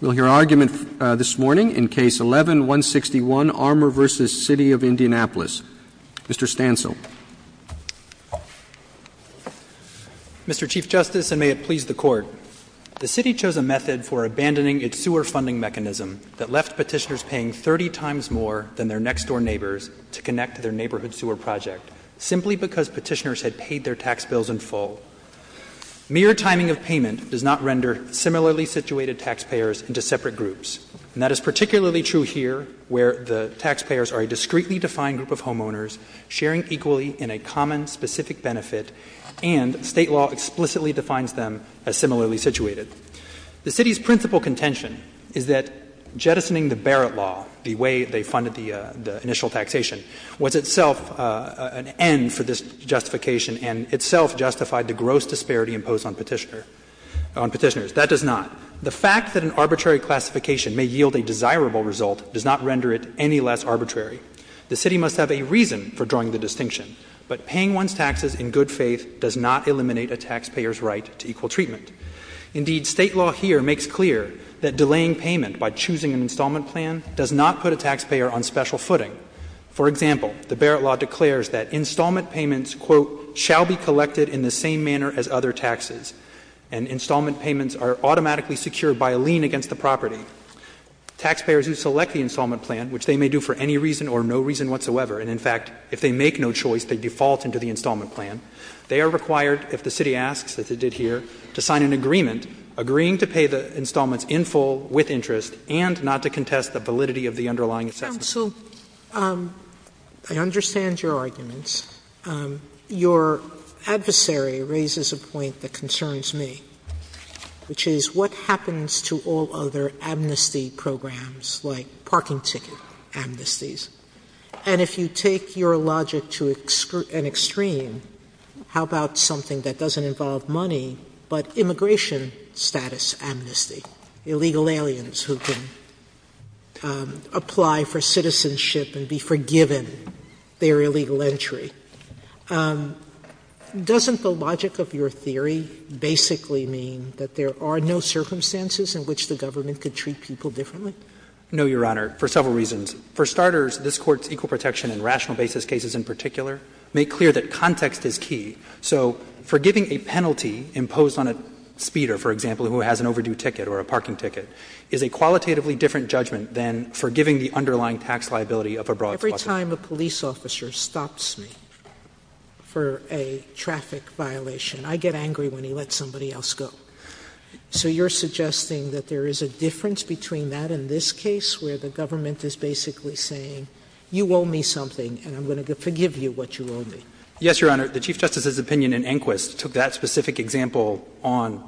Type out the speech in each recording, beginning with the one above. We'll hear argument this morning in Case 11-161, Armour v. City of Indianapolis. Mr. Stancil. Mr. Chief Justice, and may it please the Court, the City chose a method for abandoning its sewer funding mechanism that left petitioners paying 30 times more than their next-door neighbors to connect to their neighborhood sewer project simply because petitioners had paid their tax bills in full. Mere timing of payment does not render similarly situated taxpayers into separate groups. And that is particularly true here, where the taxpayers are a discreetly defined group of homeowners sharing equally in a common, specific benefit, and State law explicitly defines them as similarly situated. The City's principal contention is that jettisoning the Barrett Law, the way they funded the initial taxation, was itself an end for this justification and itself justified the gross disparity imposed on petitioners. That does not. The fact that an arbitrary classification may yield a desirable result does not render it any less arbitrary. The City must have a reason for drawing the distinction, but paying one's taxes in good faith does not eliminate a taxpayer's right to equal treatment. Indeed, State law here makes clear that delaying payment by choosing an installment plan does not put a taxpayer on special footing. For example, the Barrett Law declares that installment payments, quote, shall be collected in the same manner as other taxes, and installment payments are automatically secured by a lien against the property. Taxpayers who select the installment plan, which they may do for any reason or no reason whatsoever, and in fact, if they make no choice, they default into the installment plan, they are required, if the City asks, as it did here, to sign an agreement agreeing to pay the installments in full, with interest, and not to contest the validity of the underlying assessment. Sotomayor, I understand your arguments. Your adversary raises a point that concerns me, which is what happens to all other amnesty programs, like parking ticket amnesties? And if you take your logic to an extreme, how about something that doesn't involve money, but immigration status amnesty? Illegal aliens who can apply for citizenship and be forgiven their illegal entry. Doesn't the logic of your theory basically mean that there are no circumstances in which the government could treat people differently? No, Your Honor, for several reasons. For starters, this Court's equal protection and rational basis cases in particular make clear that context is key. So forgiving a penalty imposed on a speeder, for example, who has an overdue ticket or a parking ticket, is a qualitatively different judgment than forgiving the underlying tax liability of a broad crossing. Sotomayor, every time a police officer stops me for a traffic violation, I get angry when he lets somebody else go. So you are suggesting that there is a difference between that and this case, where the government is basically saying, you owe me something and I'm going to forgive you what you owe me? Yes, Your Honor. The Chief Justice's opinion in Enquist took that specific example on,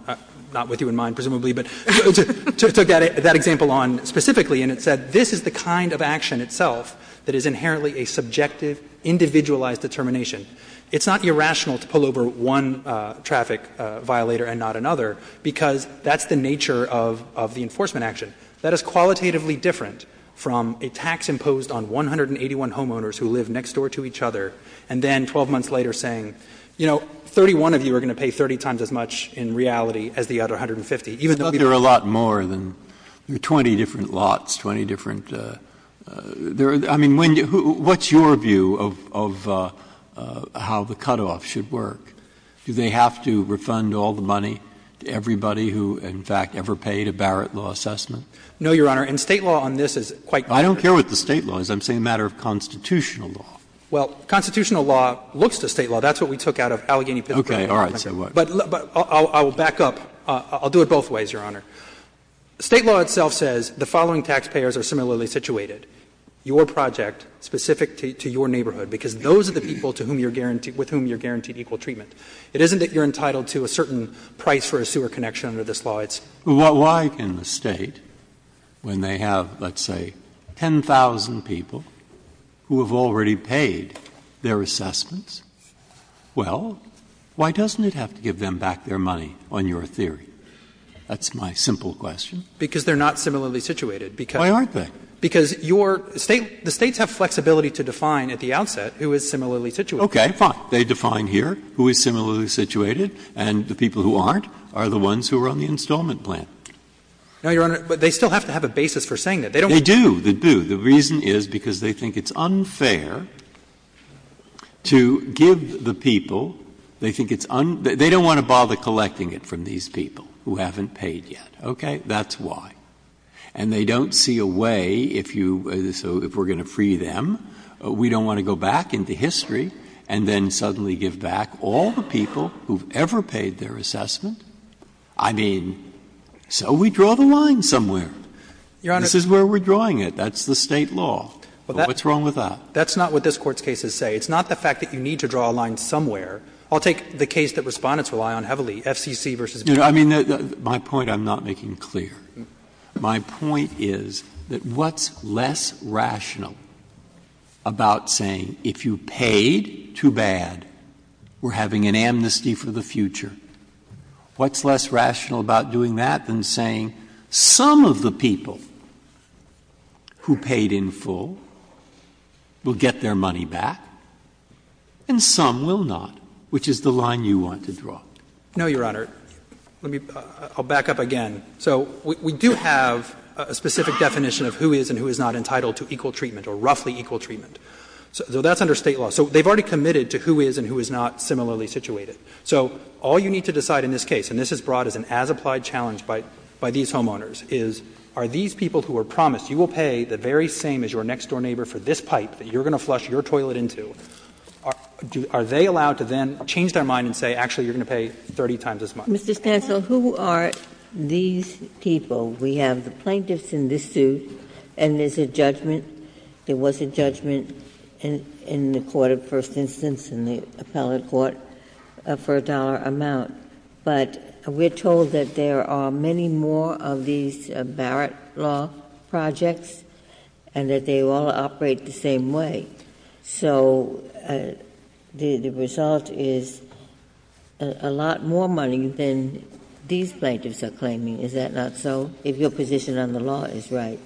not with you in mind, presumably, but took that example on specifically, and it said this is the kind of action itself that is inherently a subjective, individualized determination. It's not irrational to pull over one traffic violator and not another because that's the nature of the enforcement action. That is qualitatively different from a tax imposed on 181 homeowners who live next door to each other, and then 12 months later saying, you know, 31 of you are going to pay 30 times as much in reality as the other 150. Even though there are a lot more than 20 different lots, 20 different — I mean, what's your view of how the cutoff should work? Do they have to refund all the money to everybody who, in fact, ever paid a Barrett law assessment? No, Your Honor. And State law on this is quite different. I don't care what the State law is. I'm saying a matter of constitutional law. Well, constitutional law looks to State law. That's what we took out of Allegheny, Pittsburgh. Okay. All right. So what? But I'll back up. I'll do it both ways, Your Honor. State law itself says the following taxpayers are similarly situated, your project specific to your neighborhood, because those are the people to whom you're guaranteed — with whom you're guaranteed equal treatment. It isn't that you're entitled to a certain price for a sewer connection under this law. It's — Well, why can the State, when they have, let's say, 10,000 people who have already paid their assessments, well, why doesn't it have to give them back their money on your theory? That's my simple question. Because they're not similarly situated. Why aren't they? Because your State — the States have flexibility to define at the outset who is similarly situated. Okay, fine. They define here who is similarly situated, and the people who aren't are the ones who are on the installment plan. No, Your Honor. But they still have to have a basis for saying that. They don't have to. They do. The reason is because they think it's unfair to give the people — they think it's — they don't want to bother collecting it from these people who haven't paid yet. Okay? That's why. And they don't see a way, if you — so if we're going to free them, we don't want to go back into history and then suddenly give back all the people who've ever paid their assessment. I mean, so we draw the line somewhere. Your Honor — This is where we're drawing it. That's the State law. What's wrong with that? That's not what this Court's cases say. It's not the fact that you need to draw a line somewhere. I'll take the case that Respondents rely on heavily, FCC v. VA. I mean, my point I'm not making clear. My point is that what's less rational about saying if you paid too bad, we're having an amnesty for the future? What's less rational about doing that than saying some of the people who paid in full will get their money back and some will not, which is the line you want to draw? No, Your Honor. Let me — I'll back up again. So we do have a specific definition of who is and who is not entitled to equal treatment or roughly equal treatment. So that's under State law. So they've already committed to who is and who is not similarly situated. So all you need to decide in this case, and this is brought as an as-applied challenge by these homeowners, is are these people who are promised you will pay the very same as your next-door neighbor for this pipe that you're going to flush your toilet into, are they allowed to then change their mind and say, actually, you're going to pay 30 times as much? Mr. Stancil, who are these people? We have the plaintiffs in this suit and there's a judgment, there was a judgment in the court of first instance, in the appellate court, for a dollar amount. But we're told that there are many more of these Barrett law projects and that they all operate the same way. So the result is a lot more money than these plaintiffs are claiming. Is that not so, if your position on the law is right?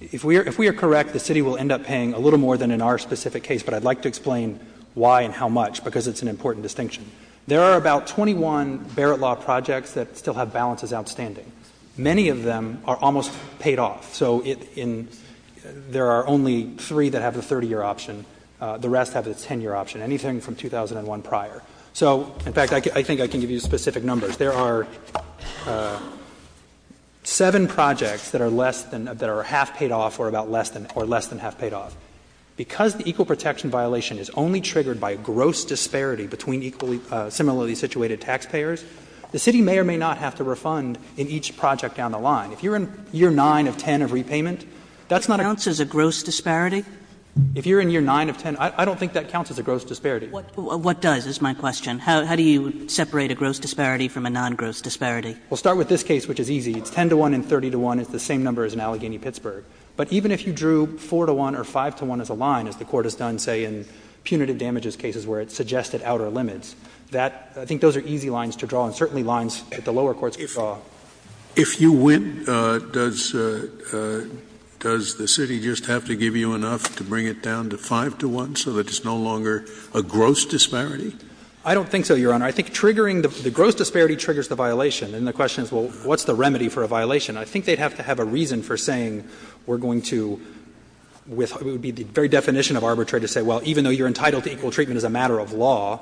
If we are correct, the city will end up paying a little more than in our specific case, but I'd like to explain why and how much, because it's an important distinction. There are about 21 Barrett law projects that still have balances outstanding. Many of them are almost paid off. So there are only three that have the 30-year option. The rest have the 10-year option, anything from 2001 prior. So, in fact, I think I can give you specific numbers. There are seven projects that are less than, that are half paid off or about less than, or less than half paid off. Because the equal protection violation is only triggered by gross disparity between equally similarly situated taxpayers, the city may or may not have to refund in each project down the line. If you're in year 9 of 10 of repayment, that's not a gross disparity. If you're in year 9 of 10, I don't think that counts as a gross disparity. What does is my question. How do you separate a gross disparity from a non-gross disparity? Well, start with this case, which is easy. It's 10 to 1 and 30 to 1. It's the same number as in Allegheny-Pittsburgh. But even if you drew 4 to 1 or 5 to 1 as a line, as the Court has done, say, in punitive damages cases where it's suggested outer limits, that — I think those are easy lines to draw and certainly lines that the lower courts draw. If you win, does the city just have to give you enough to bring it down to 5 to 1 so that it's no longer a gross disparity? I don't think so, Your Honor. I think triggering the gross disparity triggers the violation. And the question is, well, what's the remedy for a violation? I think they'd have to have a reason for saying we're going to — it would be the very definition of arbitrary to say, well, even though you're entitled to equal treatment as a matter of law,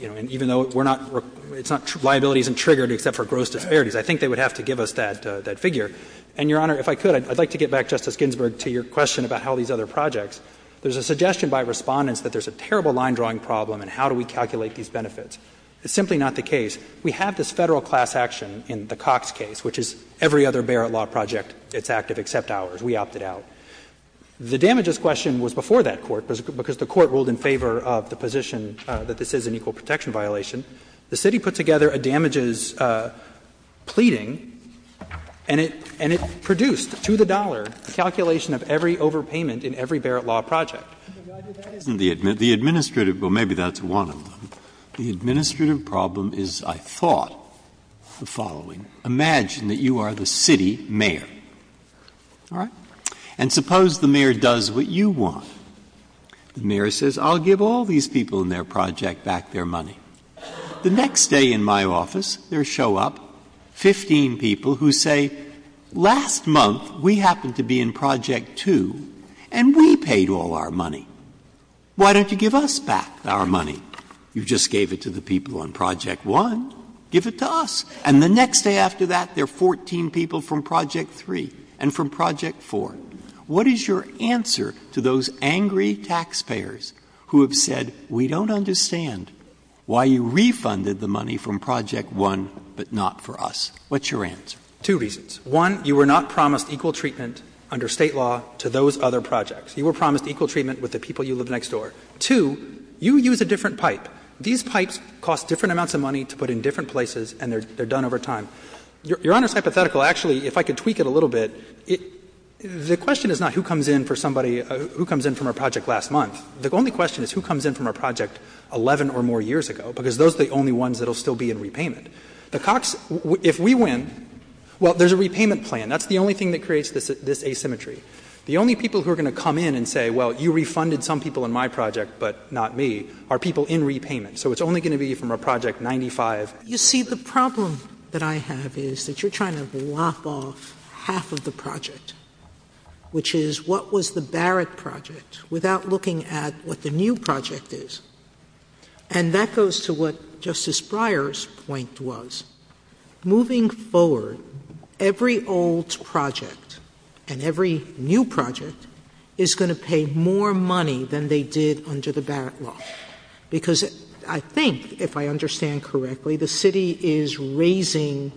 you know, and even though we're not — it's not — liability isn't triggered except for gross disparities. I think they would have to give us that figure. And, Your Honor, if I could, I'd like to get back, Justice Ginsburg, to your question about how these other projects. There's a suggestion by Respondents that there's a terrible line-drawing problem, and how do we calculate these benefits? It's simply not the case. We have this Federal class action in the Cox case, which is every other Barrett law project, it's active except ours. We opted out. The damages question was before that court, because the court ruled in favor of the position that this is an equal protection violation. The city put together a damages pleading, and it produced, to the dollar, the calculation of every overpayment in every Barrett law project. Breyer, that isn't the administrative — well, maybe that's one of them. The administrative problem is, I thought, the following. Imagine that you are the city mayor. All right? And suppose the mayor does what you want. The mayor says, I'll give all these people in their project back their money. The next day in my office, there show up 15 people who say, last month we happened to be in project 2, and we paid all our money. Why don't you give us back our money? You just gave it to the people on project 1. Give it to us. And the next day after that, there are 14 people from project 3 and from project 4. What is your answer to those angry taxpayers who have said, we don't understand why you refunded the money from project 1, but not for us? What's your answer? Two reasons. One, you were not promised equal treatment under State law to those other projects. You were promised equal treatment with the people you live next door. Two, you use a different pipe. These pipes cost different amounts of money to put in different places, and they are done over time. Your Honor's hypothetical, actually, if I could tweak it a little bit, the question is not who comes in for somebody — who comes in from a project last month. The only question is who comes in from a project 11 or more years ago, because those are the only ones that will still be in repayment. The Cox — if we win, well, there's a repayment plan. That's the only thing that creates this asymmetry. The only people who are going to come in and say, well, you refunded some people in my project, but not me, are people in repayment. So it's only going to be from a project 95. You see, the problem that I have is that you're trying to lop off half of the project, which is what was the Barrett project, without looking at what the new project is. And that goes to what Justice Breyer's point was. Moving forward, every old project and every new project is going to pay more money than they did under the Barrett law, because I think, if I understand correctly, the city is raising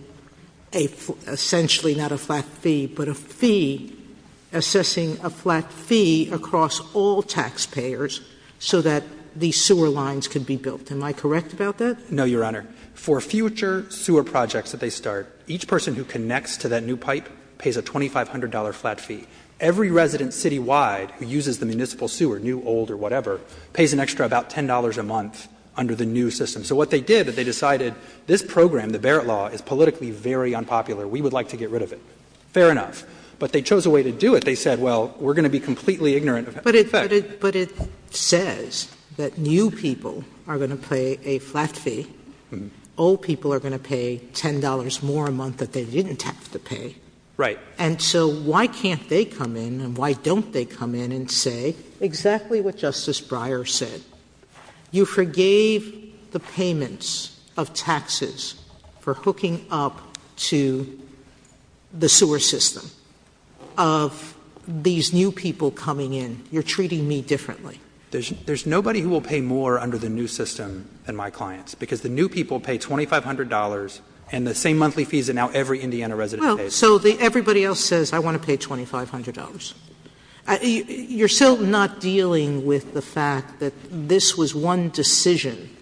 a — essentially not a flat fee, but a fee — assessing a flat fee across all taxpayers so that the sewer lines could be built. Am I correct about that? No, Your Honor. For future sewer projects that they start, each person who connects to that new pipe pays a $2,500 flat fee. Every resident citywide who uses the municipal sewer, new, old, or whatever, pays an extra about $10 a month under the new system. So what they did, they decided this program, the Barrett law, is politically very unpopular. We would like to get rid of it. Fair enough. But they chose a way to do it. They said, well, we're going to be completely ignorant of the effect. But it says that new people are going to pay a flat fee. Old people are going to pay $10 more a month that they didn't have to pay. Right. And so why can't they come in, and why don't they come in and say exactly what Justice Breyer said? You forgave the payments of taxes for hooking up to the sewer system of these new people coming in. You're treating me differently. There's nobody who will pay more under the new system than my clients, because the new people pay $2,500 and the same monthly fees that now every Indiana resident pays. Well, so everybody else says, I want to pay $2,500. You're still not dealing with the fact that this was one decision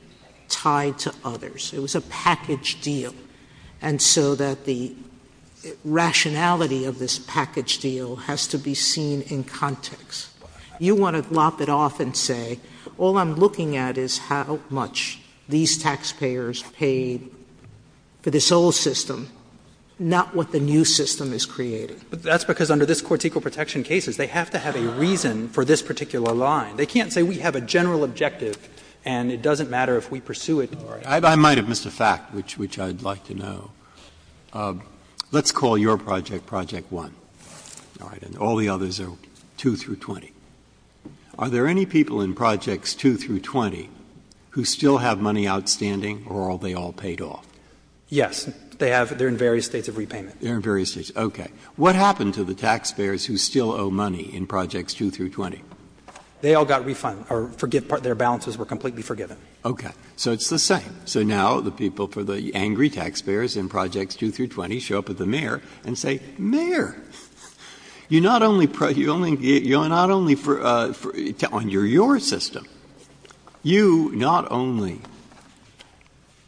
tied to others. It was a package deal. And so that the rationality of this package deal has to be seen in context. You want to lop it off and say, all I'm looking at is how much these taxpayers paid for this old system, not what the new system is creating. But that's because under this Court's equal protection cases, they have to have a reason for this particular line. They can't say we have a general objective and it doesn't matter if we pursue it or not. I might have missed a fact, which I'd like to know. Let's call your project Project 1. All right. And all the others are 2 through 20. Are there any people in Projects 2 through 20 who still have money outstanding or are they all paid off? Yes. They have — they're in various states of repayment. They're in various states. Okay. What happened to the taxpayers who still owe money in Projects 2 through 20? They all got refunded, or their balances were completely forgiven. Okay. So it's the same. So now the people for the angry taxpayers in Projects 2 through 20 show up at the mayor and say, Mayor, you not only — you not only — under your system, you not only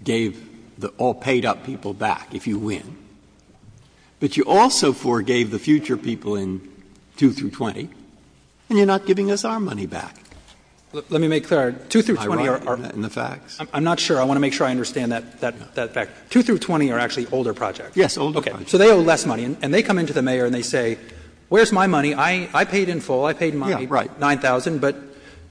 gave the all paid-up people back if you win, but you also paid them back if you also forgave the future people in 2 through 20, and you're not giving us our money back. Let me make clear. 2 through 20 are — In the facts? I'm not sure. I want to make sure I understand that fact. 2 through 20 are actually older projects. Yes, older projects. Okay. So they owe less money. And they come into the mayor and they say, where's my money? I paid in full. I paid my 9,000. Yeah, right. But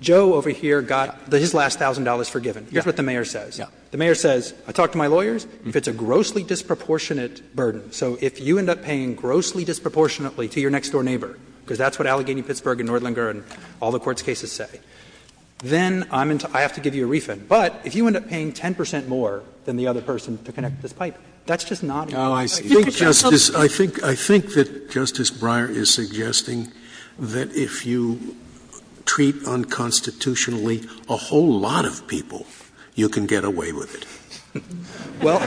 Joe over here got his last $1,000 forgiven. Yeah. Here's what the mayor says. Yeah. The mayor says, I talked to my lawyers, if it's a grossly disproportionate burden, so if you end up paying grossly disproportionately to your next-door neighbor, because that's what Allegheny-Pittsburgh and Nordlinger and all the courts' cases say, then I'm — I have to give you a refund. But if you end up paying 10 percent more than the other person to connect this pipe, that's just not enough. Oh, I see. I think — I think that Justice Breyer is suggesting that if you treat unconstitutionally a whole lot of people, you can get away with it. Well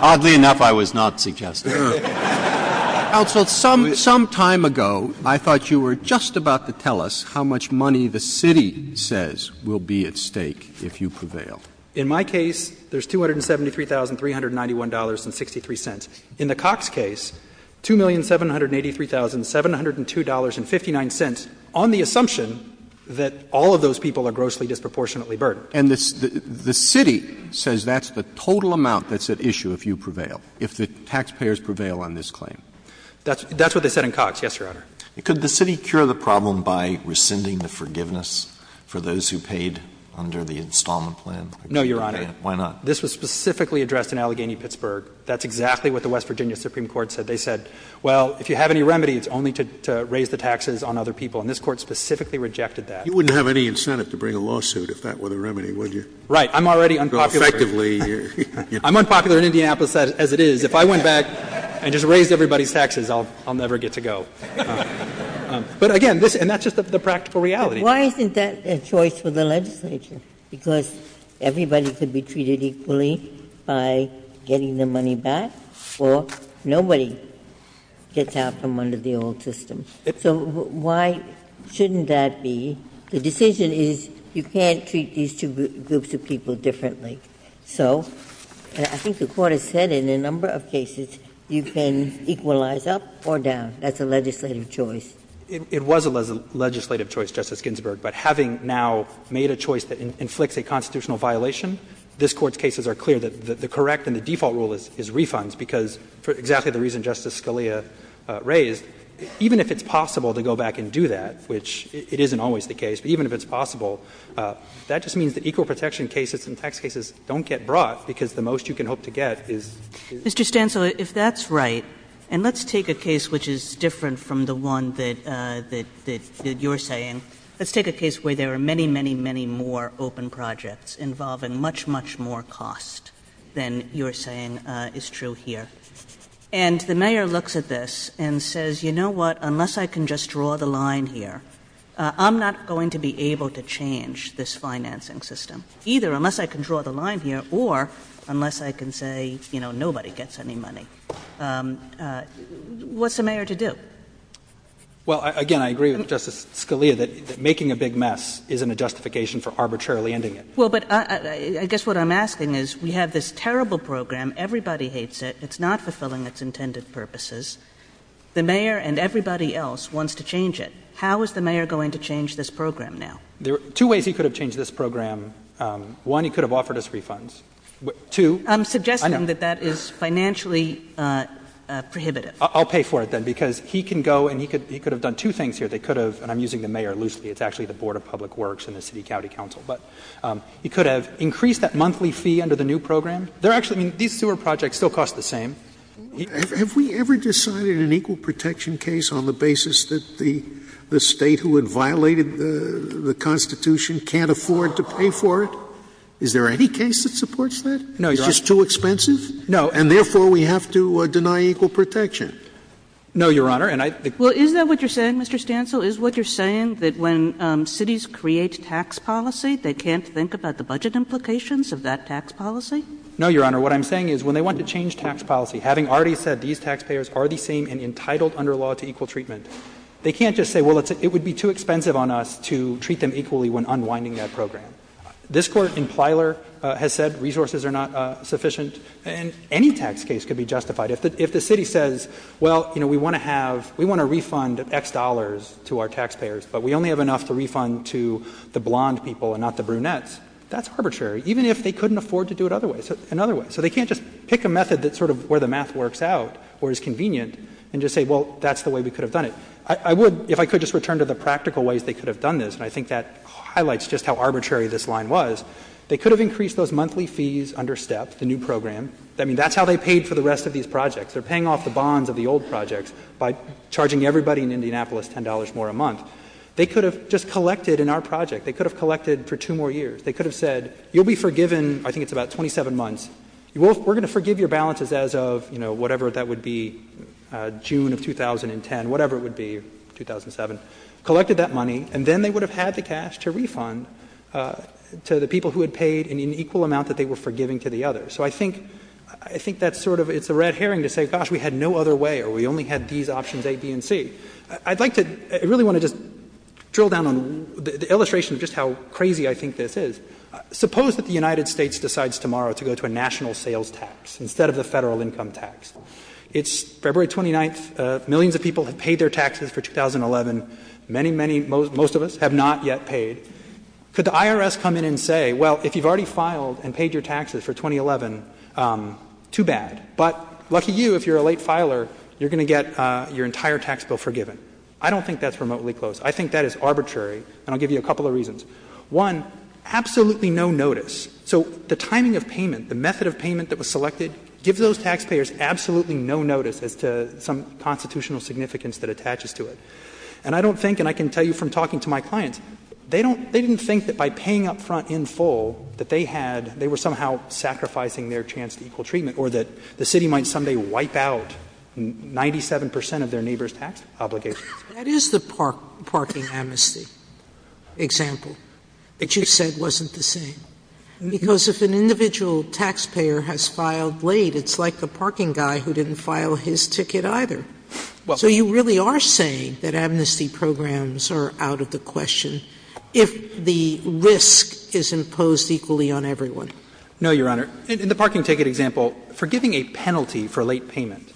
— Oddly enough, I was not suggesting that. Counsel, some — some time ago, I thought you were just about to tell us how much money the city says will be at stake if you prevail. In my case, there's $273,391.63. In the Cox case, $2,783,702.59 on the assumption that all of those people are grossly disproportionately burdened. And the city says that's the total amount that's at issue if you prevail, if the taxpayers prevail on this claim. That's what they said in Cox, yes, Your Honor. Could the city cure the problem by rescinding the forgiveness for those who paid under the installment plan? No, Your Honor. Why not? This was specifically addressed in Allegheny-Pittsburgh. That's exactly what the West Virginia Supreme Court said. They said, well, if you have any remedy, it's only to raise the taxes on other people. And this Court specifically rejected that. You wouldn't have any incentive to bring a lawsuit if that were the remedy, would you? Right. I'm already unpopular. Effectively. I'm unpopular in Indianapolis as it is. If I went back and just raised everybody's taxes, I'll never get to go. But again, and that's just the practical reality. Why isn't that a choice for the legislature? Because everybody could be treated equally by getting the money back, or nobody gets out from under the old system. So why shouldn't that be? The decision is you can't treat these two groups of people differently. So I think the Court has said in a number of cases, you can equalize up or down. That's a legislative choice. It was a legislative choice, Justice Ginsburg. But having now made a choice that inflicts a constitutional violation, this Court's cases are clear that the correct and the default rule is refunds, because for exactly the reason Justice Scalia raised, even if it's possible to go back and do that, which it isn't always the case, but even if it's possible, that just means that equal protection cases and tax cases don't get brought, because the most you can hope to get is. Mr. Stancil, if that's right, and let's take a case which is different from the one that you're saying. Let's take a case where there are many, many, many more open projects involving much, much more cost than you're saying is true here. And the mayor looks at this and says, you know what, unless I can just draw the line here, I'm not going to be able to change this financing system, either unless I can draw the line here or unless I can say, you know, nobody gets any money. What's the mayor to do? Well, again, I agree with Justice Scalia that making a big mess isn't a justification for arbitrarily ending it. Well, but I guess what I'm asking is we have this terrible program. Everybody hates it. It's not fulfilling its intended purposes. The mayor and everybody else wants to change it. How is the mayor going to change this program now? There are two ways he could have changed this program. One, he could have offered us refunds. Two, I don't know. I'm suggesting that that is financially prohibitive. I'll pay for it, then, because he can go and he could have done two things here. They could have, and I'm using the mayor loosely. It's actually the Board of Public Works and the City County Council. But he could have increased that monthly fee under the new program. They're actually, I mean, these sewer projects still cost the same. Have we ever decided an equal protection case on the basis that the State who had violated the Constitution can't afford to pay for it? Is there any case that supports that? No, Your Honor. It's just too expensive? No. And therefore, we have to deny equal protection? No, Your Honor. And I think that's what I'm saying. And so is what you're saying that when cities create tax policy, they can't think about the budget implications of that tax policy? No, Your Honor. What I'm saying is when they want to change tax policy, having already said these taxpayers are the same and entitled under law to equal treatment, they can't just say, well, it would be too expensive on us to treat them equally when unwinding that program. This Court in Plyler has said resources are not sufficient. And any tax case could be justified. If the city says, well, you know, we want to have, we want to refund X dollars to our taxpayers, but we only have enough to refund to the blonde people and not the brunettes, that's arbitrary, even if they couldn't afford to do it other ways, another way. So they can't just pick a method that's sort of where the math works out or is convenient and just say, well, that's the way we could have done it. I would, if I could just return to the practical ways they could have done this, and I think that highlights just how arbitrary this line was, they could have increased those monthly fees under STEP, the new program. I mean, that's how they paid for the rest of these projects. They're paying off the bonds of the old projects by charging everybody in Indianapolis $10 more a month. They could have just collected in our project. They could have collected for two more years. They could have said, you'll be forgiven, I think it's about 27 months. We're going to forgive your balances as of, you know, whatever that would be, June of 2010, whatever it would be, 2007. Collected that money, and then they would have had the cash to refund to the people who had paid an equal amount that they were forgiving to the others. So I think that's sort of, it's a red herring to say, gosh, we had no other way or we only had these options A, B, and C. I'd like to, I really want to just drill down on the illustration of just how crazy I think this is. Suppose that the United States decides tomorrow to go to a national sales tax instead of the Federal income tax. It's February 29th. Millions of people have paid their taxes for 2011. Many, many, most of us have not yet paid. Could the IRS come in and say, well, if you've already filed and paid your taxes for 2011, too bad. But lucky you, if you're a late filer, you're going to get your entire tax bill forgiven. I don't think that's remotely close. I think that is arbitrary, and I'll give you a couple of reasons. One, absolutely no notice. So the timing of payment, the method of payment that was selected gives those taxpayers absolutely no notice as to some constitutional significance that attaches to it. And I don't think, and I can tell you from talking to my clients, they don't, they didn't think that by paying up front in full that they had, they were somehow sacrificing their chance to equal treatment or that the city might someday wipe out 97 percent of their neighbor's tax obligations. Sotomayor's That is the parking amnesty example that you said wasn't the same. Because if an individual taxpayer has filed late, it's like the parking guy who didn't file his ticket either. So you really are saying that amnesty programs are out of the question. If the risk is imposed equally on everyone. No, Your Honor. In the parking ticket example, forgiving a penalty for late payment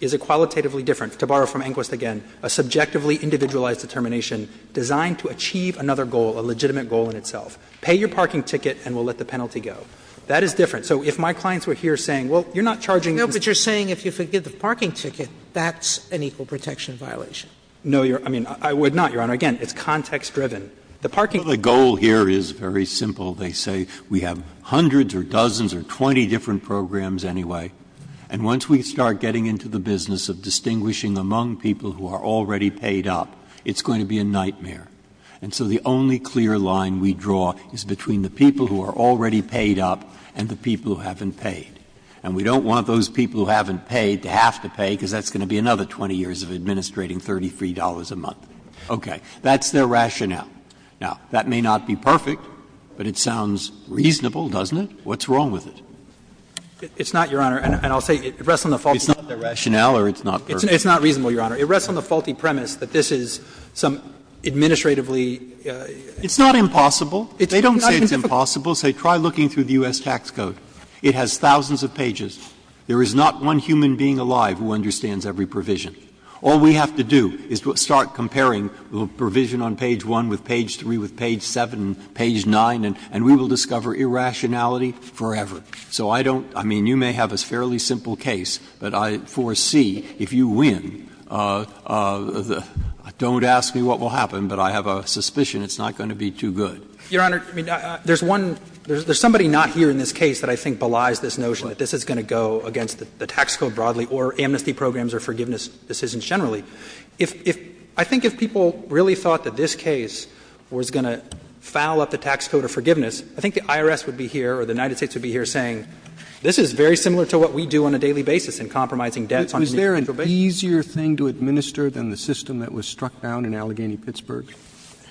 is a qualitatively different, to borrow from Enquist again, a subjectively individualized determination designed to achieve another goal, a legitimate goal in itself. Pay your parking ticket and we'll let the penalty go. That is different. So if my clients were here saying, well, you're not charging. No, but you're saying if you forgive the parking ticket, that's an equal protection violation. No, Your Honor. I mean, I would not, Your Honor. Again, it's context-driven. The parking ticket. Breyer. Well, the goal here is very simple. They say we have hundreds or dozens or 20 different programs anyway. And once we start getting into the business of distinguishing among people who are already paid up, it's going to be a nightmare. And so the only clear line we draw is between the people who are already paid up and the people who haven't paid. And we don't want those people who haven't paid to have to pay, because that's going to be another 20 years of administrating $33 a month. Okay. That's their rationale. Now, that may not be perfect, but it sounds reasonable, doesn't it? What's wrong with it? It's not, Your Honor. And I'll say it rests on the faulty premise. It's not their rationale or it's not perfect? It's not reasonable, Your Honor. It rests on the faulty premise that this is some administratively It's not impossible. It's not difficult. They don't say it's impossible. They say try looking through the U.S. tax code. It has thousands of pages. There is not one human being alive who understands every provision. All we have to do is start comparing the provision on page 1 with page 3, with page 7, page 9, and we will discover irrationality forever. So I don't – I mean, you may have a fairly simple case, but I foresee if you win, don't ask me what will happen, but I have a suspicion it's not going to be too good. Your Honor, I mean, there's one – there's somebody not here in this case that I think belies this notion that this is going to go against the tax code broadly or amnesty programs or forgiveness decisions generally. If – I think if people really thought that this case was going to foul up the tax code or forgiveness, I think the IRS would be here or the United States would be here saying, this is very similar to what we do on a daily basis in compromising debts on an individual basis. Was there an easier thing to administer than the system that was struck down in Allegheny-Pittsburgh?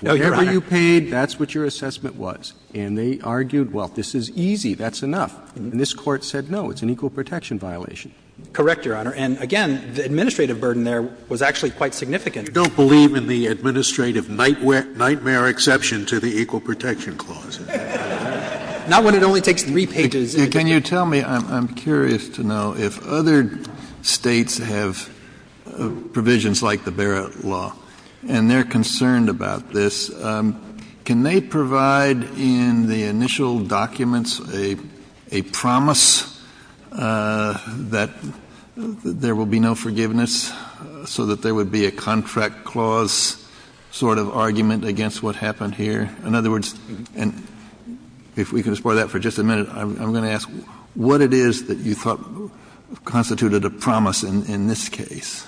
No, Your Honor. Whatever you paid, that's what your assessment was. And they argued, well, this is easy, that's enough. And this Court said no, it's an equal protection violation. Correct, Your Honor. And again, the administrative burden there was actually quite significant. You don't believe in the administrative nightmare exception to the Equal Protection Clause? Not when it only takes three pages. Can you tell me, I'm curious to know, if other States have provisions like the Barrett law and they're concerned about this, can they provide in the initial documents a promise that there will be no forgiveness, so that there would be a contract clause sort of argument against what happened here? In other words, and if we could explore that for just a minute, I'm going to ask, what it is that you thought constituted a promise in this case?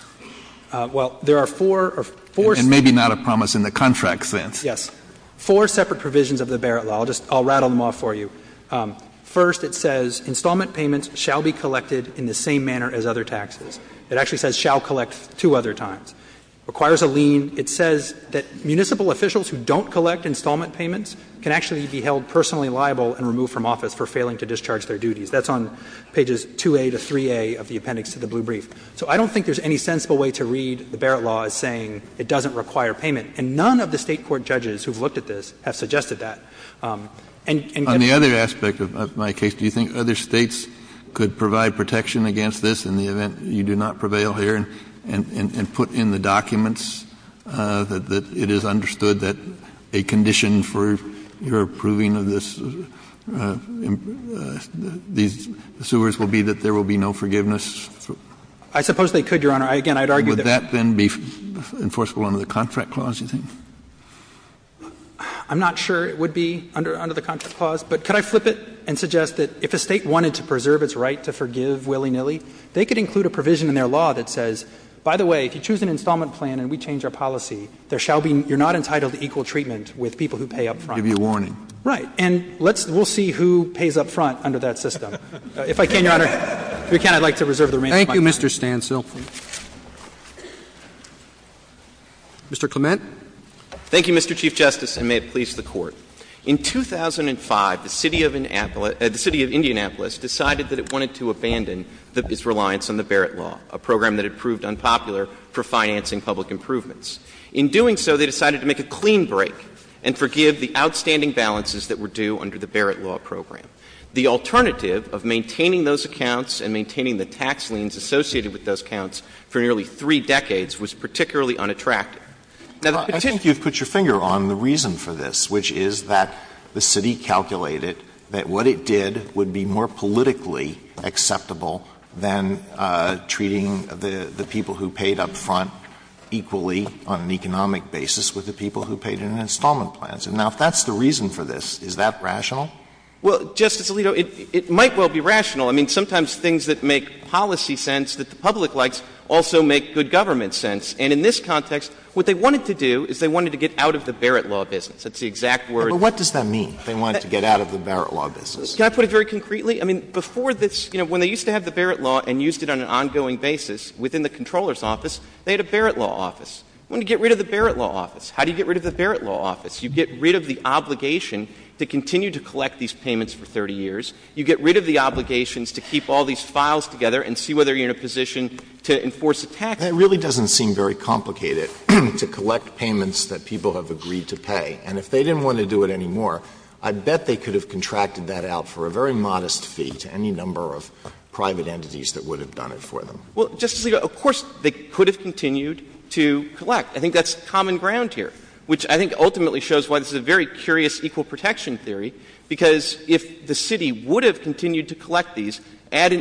Well, there are four or four separate. And maybe not a promise in the contract sense. Yes. Four separate provisions of the Barrett law. I'll just rattle them off for you. First, it says installment payments shall be collected in the same manner as other taxes. It actually says shall collect two other times. Requires a lien. It says that municipal officials who don't collect installment payments can actually be held personally liable and removed from office for failing to discharge their duties. That's on pages 2A to 3A of the appendix to the blue brief. So I don't think there's any sensible way to read the Barrett law as saying it doesn't require payment. And none of the State court judges who have looked at this have suggested that. On the other aspect of my case, do you think other States could provide protection against this in the event you do not prevail here and put in the documents that it is understood that a condition for your approving of this, these sewers will be that there will be no forgiveness? I suppose they could, Your Honor. Again, I'd argue that. Would that then be enforceable under the contract clause, you think? I'm not sure it would be under the contract clause. But could I flip it and suggest that if a State wanted to preserve its right to forgive willy-nilly, they could include a provision in their law that says, by the way, if you choose an installment plan and we change our policy, there shall be — you're not entitled to equal treatment with people who pay up front. To give you a warning. Right. And let's — we'll see who pays up front under that system. If I can, Your Honor, if you can, I'd like to reserve the remainder of my time. Thank you, Mr. Stancil. Mr. Clement. Thank you, Mr. Chief Justice, and may it please the Court. In 2005, the City of Indianapolis decided that it wanted to abandon its reliance on the Barrett Law, a program that had proved unpopular for financing public improvements. In doing so, they decided to make a clean break and forgive the outstanding balances that were due under the Barrett Law program. The alternative of maintaining those accounts and maintaining the tax liens associated with those accounts for nearly three decades was particularly unattractive. Now, the — Well, I think you've put your finger on the reason for this, which is that the city calculated that what it did would be more politically acceptable than treating the people who paid up front equally on an economic basis with the people who paid in installment plans. Now, if that's the reason for this, is that rational? Well, Justice Alito, it might well be rational. I mean, sometimes things that make policy sense that the public likes also make good government sense. And in this context, what they wanted to do is they wanted to get out of the Barrett Law business. That's the exact word — But what does that mean, they wanted to get out of the Barrett Law business? Can I put it very concretely? I mean, before this — you know, when they used to have the Barrett Law and used it on an ongoing basis within the Comptroller's office, they had a Barrett Law office. They wanted to get rid of the Barrett Law office. How do you get rid of the Barrett Law office? You get rid of the obligation to continue to collect these payments for 30 years. You get rid of the obligations to keep all these files together and see whether you're in a position to enforce a tax law. That really doesn't seem very complicated, to collect payments that people have agreed to pay. And if they didn't want to do it anymore, I bet they could have contracted that out for a very modest fee to any number of private entities that would have done it for them. Well, Justice Alito, of course they could have continued to collect. I think that's common ground here, which I think ultimately shows why this is a very to collect these,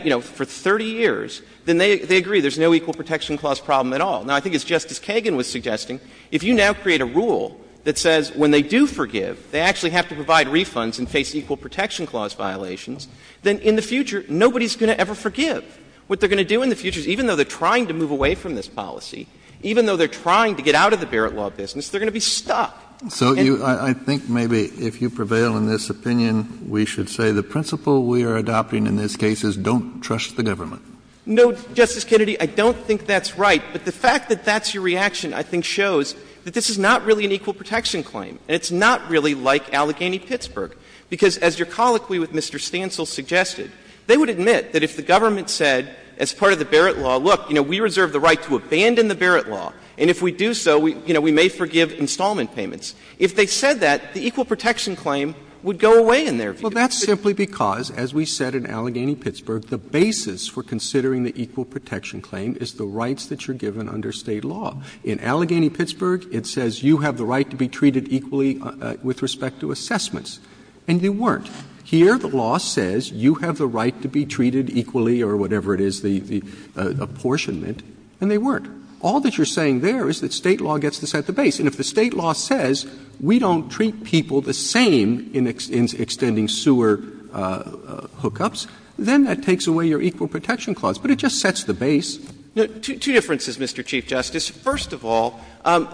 you know, for 30 years, then they agree there's no equal protection clause problem at all. Now, I think as Justice Kagan was suggesting, if you now create a rule that says when they do forgive, they actually have to provide refunds and face equal protection clause violations, then in the future nobody's going to ever forgive. What they're going to do in the future is even though they're trying to move away from this policy, even though they're trying to get out of the Barrett Law business, they're going to be stuck. So you — I think maybe if you prevail in this opinion, we should say the principle we are adopting in this case is don't trust the government. No, Justice Kennedy, I don't think that's right. But the fact that that's your reaction, I think, shows that this is not really an equal protection claim. And it's not really like Allegheny-Pittsburgh. Because as your colloquy with Mr. Stancil suggested, they would admit that if the government said as part of the Barrett Law, look, you know, we reserve the right to abandon the Barrett Law, and if we do so, you know, we may forgive installment payments. If they said that, the equal protection claim would go away in their view. Roberts. Well, that's simply because, as we said in Allegheny-Pittsburgh, the basis for considering the equal protection claim is the rights that you're given under State law. In Allegheny-Pittsburgh, it says you have the right to be treated equally with respect to assessments, and you weren't. Here the law says you have the right to be treated equally or whatever it is, the proportionment, and they weren't. All that you're saying there is that State law gets to set the base. And if the State law says we don't treat people the same in extending sewer hookups, then that takes away your equal protection clause. But it just sets the base. Two differences, Mr. Chief Justice. First of all,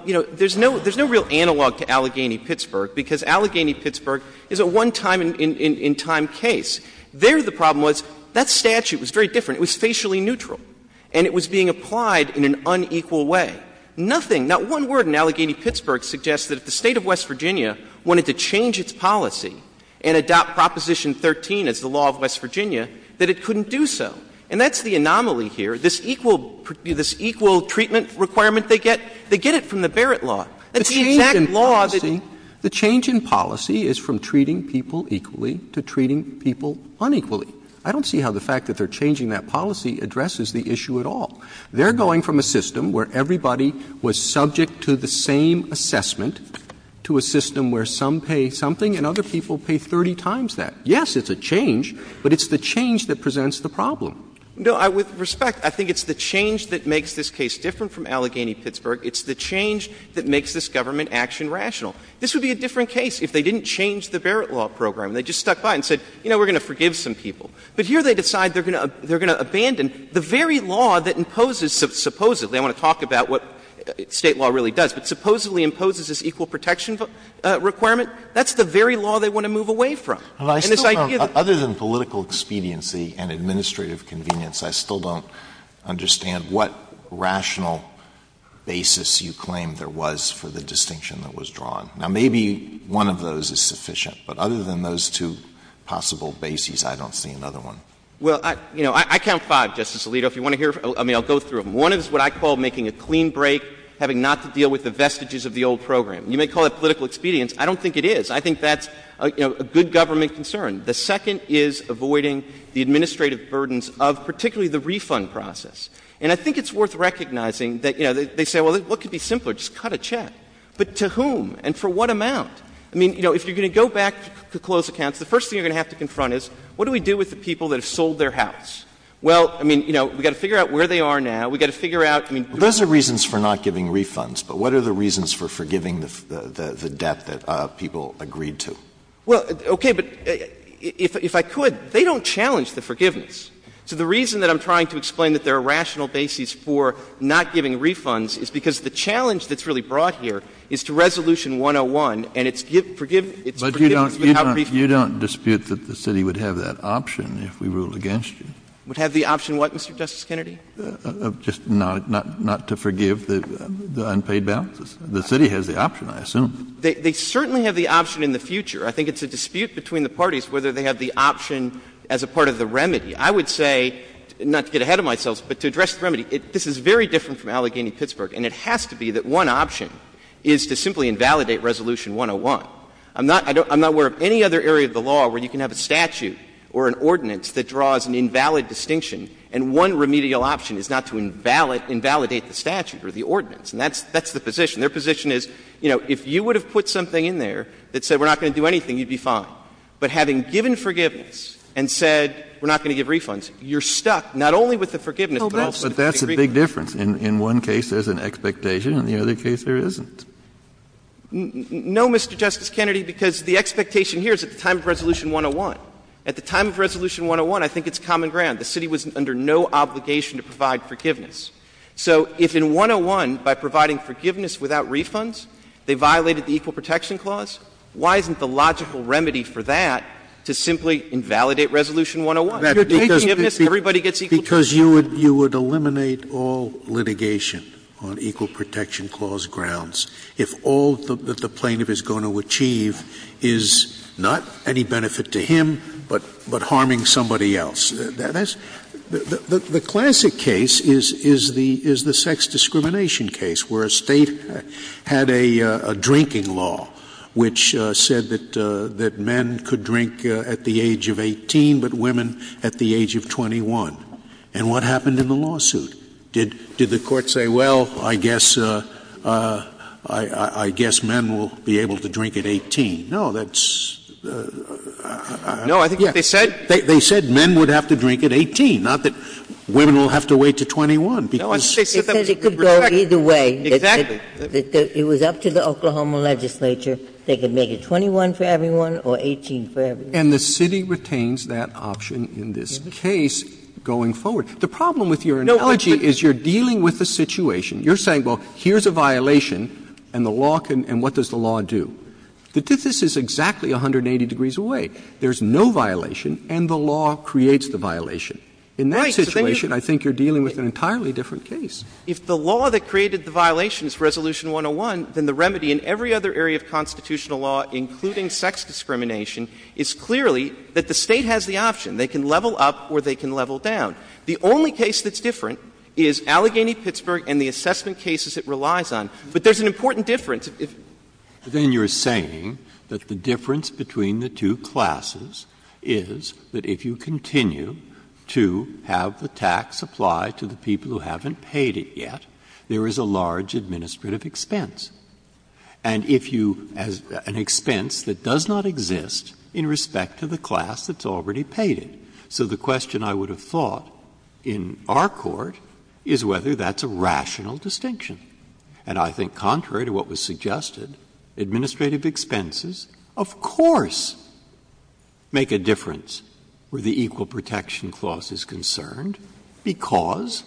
you know, there's no real analog to Allegheny-Pittsburgh because Allegheny-Pittsburgh is a one-time-in-time case. There the problem was that statute was very different. It was facially neutral. And it was being applied in an unequal way. Nothing, not one word in Allegheny-Pittsburgh suggests that if the State of West Virginia wanted to change its policy and adopt Proposition 13 as the law of West Virginia, that it couldn't do so. And that's the anomaly here. This equal treatment requirement they get, they get it from the Barrett law. That's the exact law that they get. The change in policy is from treating people equally to treating people unequally. I don't see how the fact that they're changing that policy addresses the issue at all. They're going from a system where everybody was subject to the same assessment to a system where some pay something and other people pay 30 times that. Yes, it's a change, but it's the change that presents the problem. No, with respect, I think it's the change that makes this case different from Allegheny-Pittsburgh. It's the change that makes this government action rational. This would be a different case if they didn't change the Barrett law program. They just stuck by it and said, you know, we're going to forgive some people. But here they decide they're going to abandon the very law that imposes supposedly – I want to talk about what State law really does – but supposedly imposes this equal protection requirement. That's the very law they want to move away from. And this idea that Alito Other than political expediency and administrative convenience, I still don't understand what rational basis you claim there was for the distinction that was drawn. Now, maybe one of those is sufficient, but other than those two possible bases, I don't see another one. Well, you know, I count five, Justice Alito, if you want to hear – I mean, I'll go through them. One is what I call making a clean break, having not to deal with the vestiges of the old program. You may call it political expedience. I don't think it is. I think that's, you know, a good government concern. The second is avoiding the administrative burdens of particularly the refund process. And I think it's worth recognizing that, you know, they say, well, what could be simpler? Just cut a check. But to whom? And for what amount? I mean, you know, if you're going to go back to closed accounts, the first thing you're going to have to confront is, what do we do with the people that have sold their house? Well, I mean, you know, we've got to figure out where they are now. We've got to figure out, I mean — Those are reasons for not giving refunds. But what are the reasons for forgiving the debt that people agreed to? Well, okay. But if I could, they don't challenge the forgiveness. So the reason that I'm trying to explain that there are rational bases for not giving refunds is because the challenge that's really brought here is to Resolution 101, and it's forgiveness without refund. But you don't dispute that the City would have that option if we ruled against you? Would have the option what, Mr. Justice Kennedy? Just not to forgive the unpaid balances. The City has the option, I assume. They certainly have the option in the future. I think it's a dispute between the parties whether they have the option as a part of the remedy. I would say, not to get ahead of myself, but to address the remedy, this is very different from Allegheny-Pittsburgh. And it has to be that one option is to simply invalidate Resolution 101. I'm not aware of any other area of the law where you can have a statute or an ordinance that draws an invalid distinction, and one remedial option is not to invalidate the statute or the ordinance. And that's the position. Their position is, you know, if you would have put something in there that said we're not going to do anything, you'd be fine. But having given forgiveness and said we're not going to give refunds, you're stuck not only with the forgiveness, but also with the agreement. So there's a big difference. In one case, there's an expectation. In the other case, there isn't. No, Mr. Justice Kennedy, because the expectation here is at the time of Resolution 101. At the time of Resolution 101, I think it's common ground. The city was under no obligation to provide forgiveness. So if in 101, by providing forgiveness without refunds, they violated the Equal Protection Clause, why isn't the logical remedy for that to simply invalidate Resolution 101? Because you would eliminate all litigation on Equal Protection Clause grounds if all that the plaintiff is going to achieve is not any benefit to him, but harming somebody else. The classic case is the sex discrimination case, where a State had a drinking law, which said that men could drink at the age of 18, but women at the age of 21. And what happened in the lawsuit? Did the Court say, well, I guess men will be able to drink at 18? No, that's the question. No, I think they said. They said men would have to drink at 18, not that women will have to wait to 21. No, I think they said it could go either way. Exactly. It was up to the Oklahoma legislature. They could make it 21 for everyone or 18 for everyone. And the city retains that option in this case going forward. The problem with your analogy is you're dealing with a situation. You're saying, well, here's a violation and the law can — and what does the law do? The tithe is exactly 180 degrees away. There's no violation and the law creates the violation. In that situation, I think you're dealing with an entirely different case. If the law that created the violation is Resolution 101, then the remedy in every other area of constitutional law, including sex discrimination, is clearly that the State has the option. They can level up or they can level down. The only case that's different is Allegheny-Pittsburgh and the assessment cases it relies on. But there's an important difference. Then you're saying that the difference between the two classes is that if you continue to have the tax apply to the people who haven't paid it yet, there is a large administrative expense. And if you — an expense that does not exist in respect to the class that's already paid it. So the question I would have thought in our court is whether that's a rational distinction. And I think contrary to what was suggested, administrative expenses of course make a difference where the Equal Protection Clause is concerned, because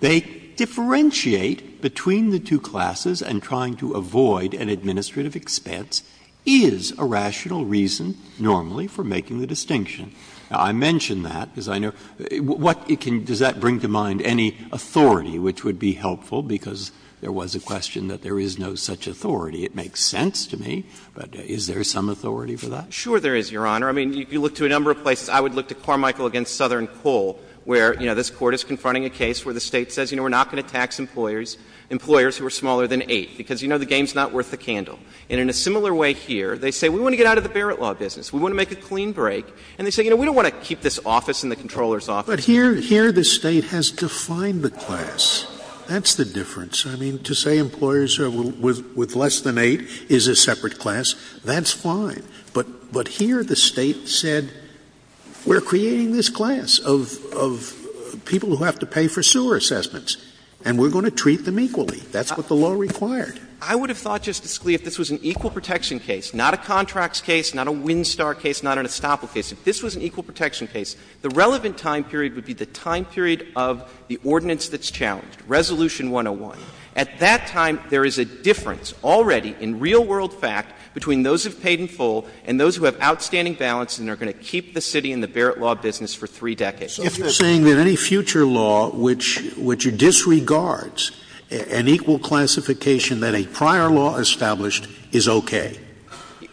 they differentiate between the two classes and trying to avoid an administrative expense is a rational reason normally for making the distinction. Now, I mention that because I know — what it can — does that bring to mind any authority which would be helpful? Because there was a question that there is no such authority. It makes sense to me, but is there some authority for that? Sure there is, Your Honor. I mean, if you look to a number of places, I would look to Carmichael v. Southern Coal, where, you know, this Court is confronting a case where the State says, you know, we're not going to tax employers, employers who are smaller than 8, because you know the game's not worth the candle. And in a similar way here, they say, we want to get out of the Barrett Law business. We want to make a clean break. And they say, you know, we don't want to keep this office in the Comptroller's office. But here — here the State has defined the class. That's the difference. I mean, to say employers with less than 8 is a separate class, that's fine. But — but here the State said, we're creating this class of — of people who have to pay for sewer assessments, and we're going to treat them equally. That's what the law required. I would have thought, Justice Scalia, if this was an equal protection case, not a contracts case, not a Winstar case, not an Estoppel case, if this was an equal protection case, the relevant time period would be the time period of the ordinance that's challenged, Resolution 101. At that time, there is a difference already in real world fact between those who have an equal and those who have outstanding balances and are going to keep the city in the Barrett Law business for three decades. So you're saying that any future law which — which disregards an equal classification that a prior law established is okay,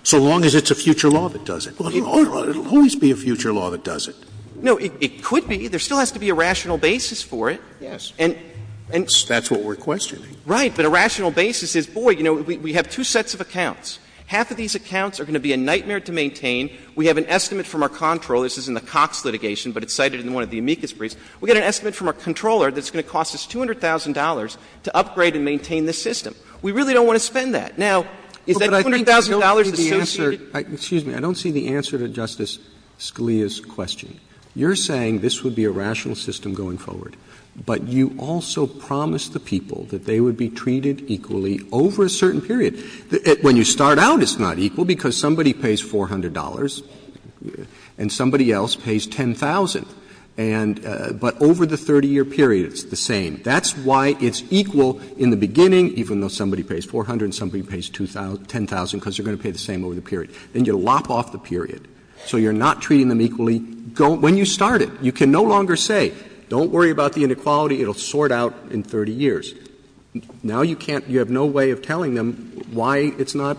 so long as it's a future law that does it? Well, it will always be a future law that does it. No, it could be. There still has to be a rational basis for it. Yes. And — and — That's what we're questioning. Right. But a rational basis is, boy, you know, we have two sets of accounts. Half of these accounts are going to be a nightmare to maintain. We have an estimate from our comptroller. This is in the Cox litigation, but it's cited in one of the amicus briefs. We got an estimate from our comptroller that's going to cost us $200,000 to upgrade and maintain this system. We really don't want to spend that. Now, is that $200,000 associated? Well, but I think I don't see the answer — excuse me. I don't see the answer to Justice Scalia's question. You're saying this would be a rational system going forward, but you also promised the people that they would be treated equally over a certain period. When you start out, it's not equal, because somebody pays $400 and somebody else pays $10,000. And — but over the 30-year period, it's the same. That's why it's equal in the beginning, even though somebody pays $400 and somebody pays $10,000, because they're going to pay the same over the period. Then you lop off the period. So you're not treating them equally when you start it. You can no longer say, don't worry about the inequality. It will sort out in 30 years. Now you can't — you have no way of telling them why it's not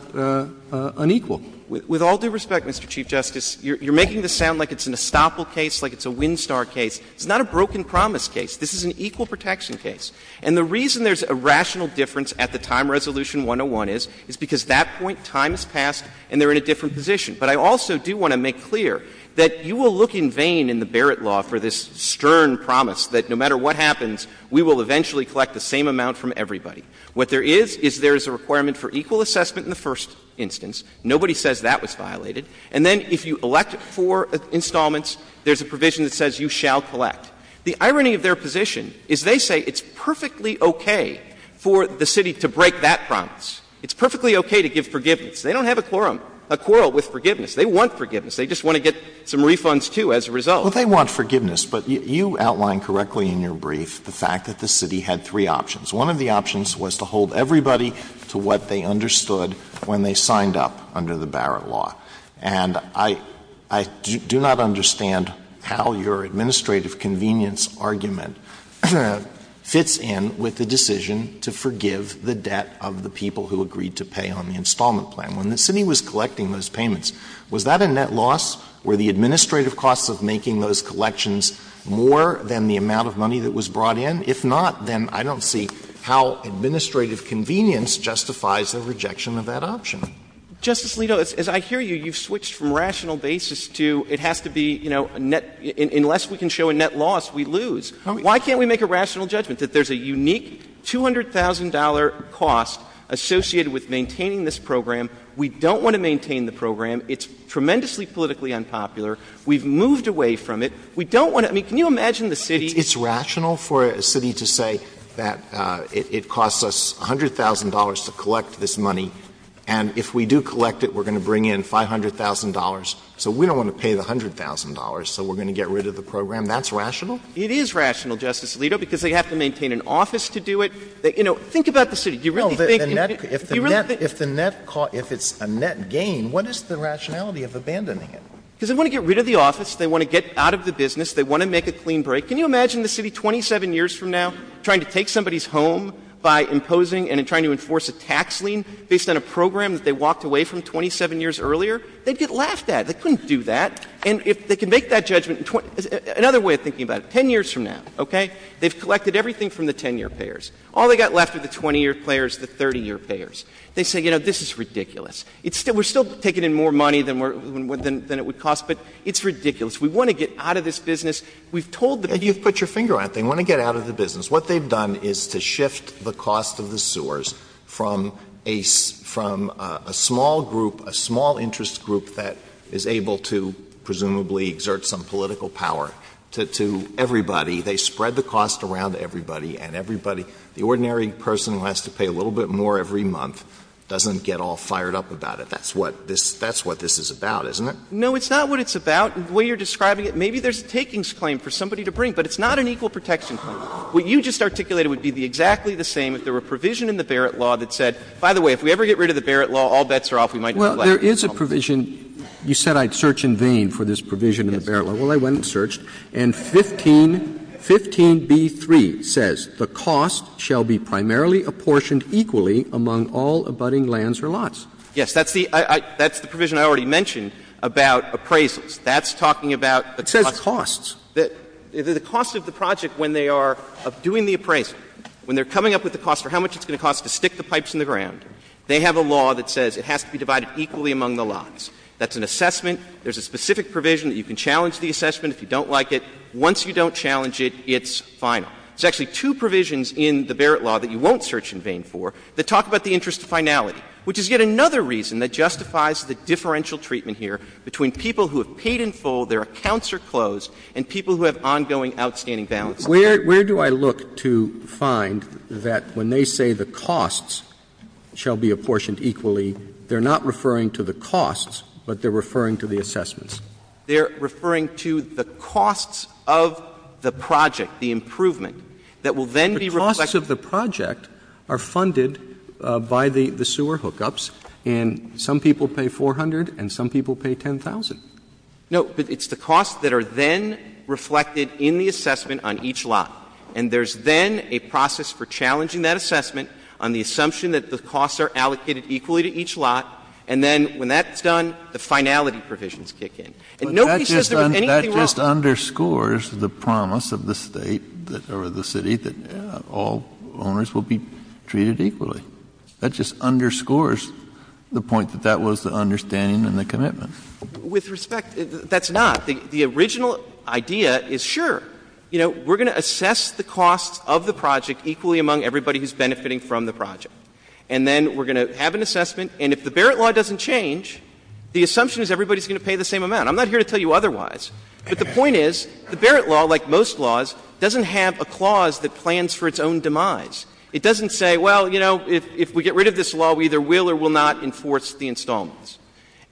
unequal. With all due respect, Mr. Chief Justice, you're making this sound like it's an estoppel case, like it's a wind star case. It's not a broken promise case. This is an equal protection case. And the reason there's a rational difference at the time resolution 101 is, is because that point, time has passed and they're in a different position. But I also do want to make clear that you will look in vain in the Barrett law for this stern promise that no matter what happens, we will eventually collect the same amount from everybody. What there is, is there is a requirement for equal assessment in the first instance. Nobody says that was violated. And then if you elect for installments, there's a provision that says you shall collect. The irony of their position is they say it's perfectly okay for the city to break that promise. It's perfectly okay to give forgiveness. They don't have a quorum — a quarrel with forgiveness. They want forgiveness. They just want to get some refunds, too, as a result. Well, they want forgiveness. But you outlined correctly in your brief the fact that the city had three options. One of the options was to hold everybody to what they understood when they signed up under the Barrett law. And I — I do not understand how your administrative convenience argument fits in with the decision to forgive the debt of the people who agreed to pay on the installment plan. When the city was collecting those payments, was that a net loss? Were the administrative costs of making those collections more than the amount of money that was brought in? If not, then I don't see how administrative convenience justifies the rejection of that option. Justice Alito, as I hear you, you've switched from rational basis to it has to be, you know, a net — unless we can show a net loss, we lose. Why can't we make a rational judgment that there's a unique $200,000 cost associated with maintaining this program? We don't want to maintain the program. It's tremendously politically unpopular. We've moved away from it. We don't want to — I mean, can you imagine the city — It's rational for a city to say that it costs us $100,000 to collect this money, and if we do collect it, we're going to bring in $500,000, so we don't want to pay the $100,000, so we're going to get rid of the program. That's rational? It is rational, Justice Alito, because they have to maintain an office to do it. You know, think about the city. Do you really think — If the net — if the net cost — if it's a net gain, what is the rationality of abandoning it? Because they want to get rid of the office. They want to get out of the business. They want to make a clean break. Can you imagine the city 27 years from now trying to take somebody's home by imposing and trying to enforce a tax lien based on a program that they walked away from 27 years earlier? They'd get laughed at. They couldn't do that. And if they can make that judgment in — another way of thinking about it, 10 years from now, okay, they've collected everything from the 10-year payers. All they've got left are the 20-year payers, the 30-year payers. They say, you know, this is ridiculous. We're still taking in more money than it would cost, but it's ridiculous. We want to get out of this business. We've told them — You've put your finger on it. They want to get out of the business. What they've done is to shift the cost of the sewers from a small group, a small interest group that is able to presumably exert some political power to everybody. They spread the cost around to everybody, and everybody — the ordinary person who has to pay a little bit more every month doesn't get all fired up about it. That's what this — that's what this is about, isn't it? No, it's not what it's about. The way you're describing it, maybe there's a takings claim for somebody to bring, but it's not an equal protection claim. What you just articulated would be exactly the same if there were a provision in the Barrett Law that said, by the way, if we ever get rid of the Barrett Law, all bets are off. We might be glad. Well, there is a provision. You said I'd search in vain for this provision in the Barrett Law. Yes. Well, I went and searched, and 15 — 15b3 says the cost shall be primarily apportioned equally among all abutting lands or lots. Yes. That's the — that's the provision I already mentioned about appraisals. That's talking about the cost. It says costs. The cost of the project, when they are doing the appraisal, when they're coming up with the cost or how much it's going to cost to stick the pipes in the ground, That's an assessment. There's a specific provision that you can challenge the assessment if you don't like it. Once you don't challenge it, it's final. There's actually two provisions in the Barrett Law that you won't search in vain for that talk about the interest of finality, which is yet another reason that justifies the differential treatment here between people who have paid in full, their accounts are closed, and people who have ongoing outstanding balances. Where do I look to find that when they say the costs shall be apportioned equally, they're not referring to the costs, but they're referring to the assessments? They're referring to the costs of the project, the improvement, that will then be reflected The costs of the project are funded by the sewer hookups, and some people pay $400,000 and some people pay $10,000. No, but it's the costs that are then reflected in the assessment on each lot. And there's then a process for challenging that assessment on the assumption that the costs are allocated equally to each lot, and then when that's done, the finality provisions kick in. And nobody says there was anything wrong. Kennedy That just underscores the promise of the State or the city that all owners will be treated equally. That just underscores the point that that was the understanding and the commitment. Clement With respect, that's not. The original idea is, sure, you know, we're going to assess the costs of the project equally among everybody who's benefiting from the project. And then we're going to have an assessment, and if the Barrett Law doesn't change, the assumption is everybody's going to pay the same amount. I'm not here to tell you otherwise. But the point is, the Barrett Law, like most laws, doesn't have a clause that plans for its own demise. It doesn't say, well, you know, if we get rid of this law, we either will or will not enforce the installments.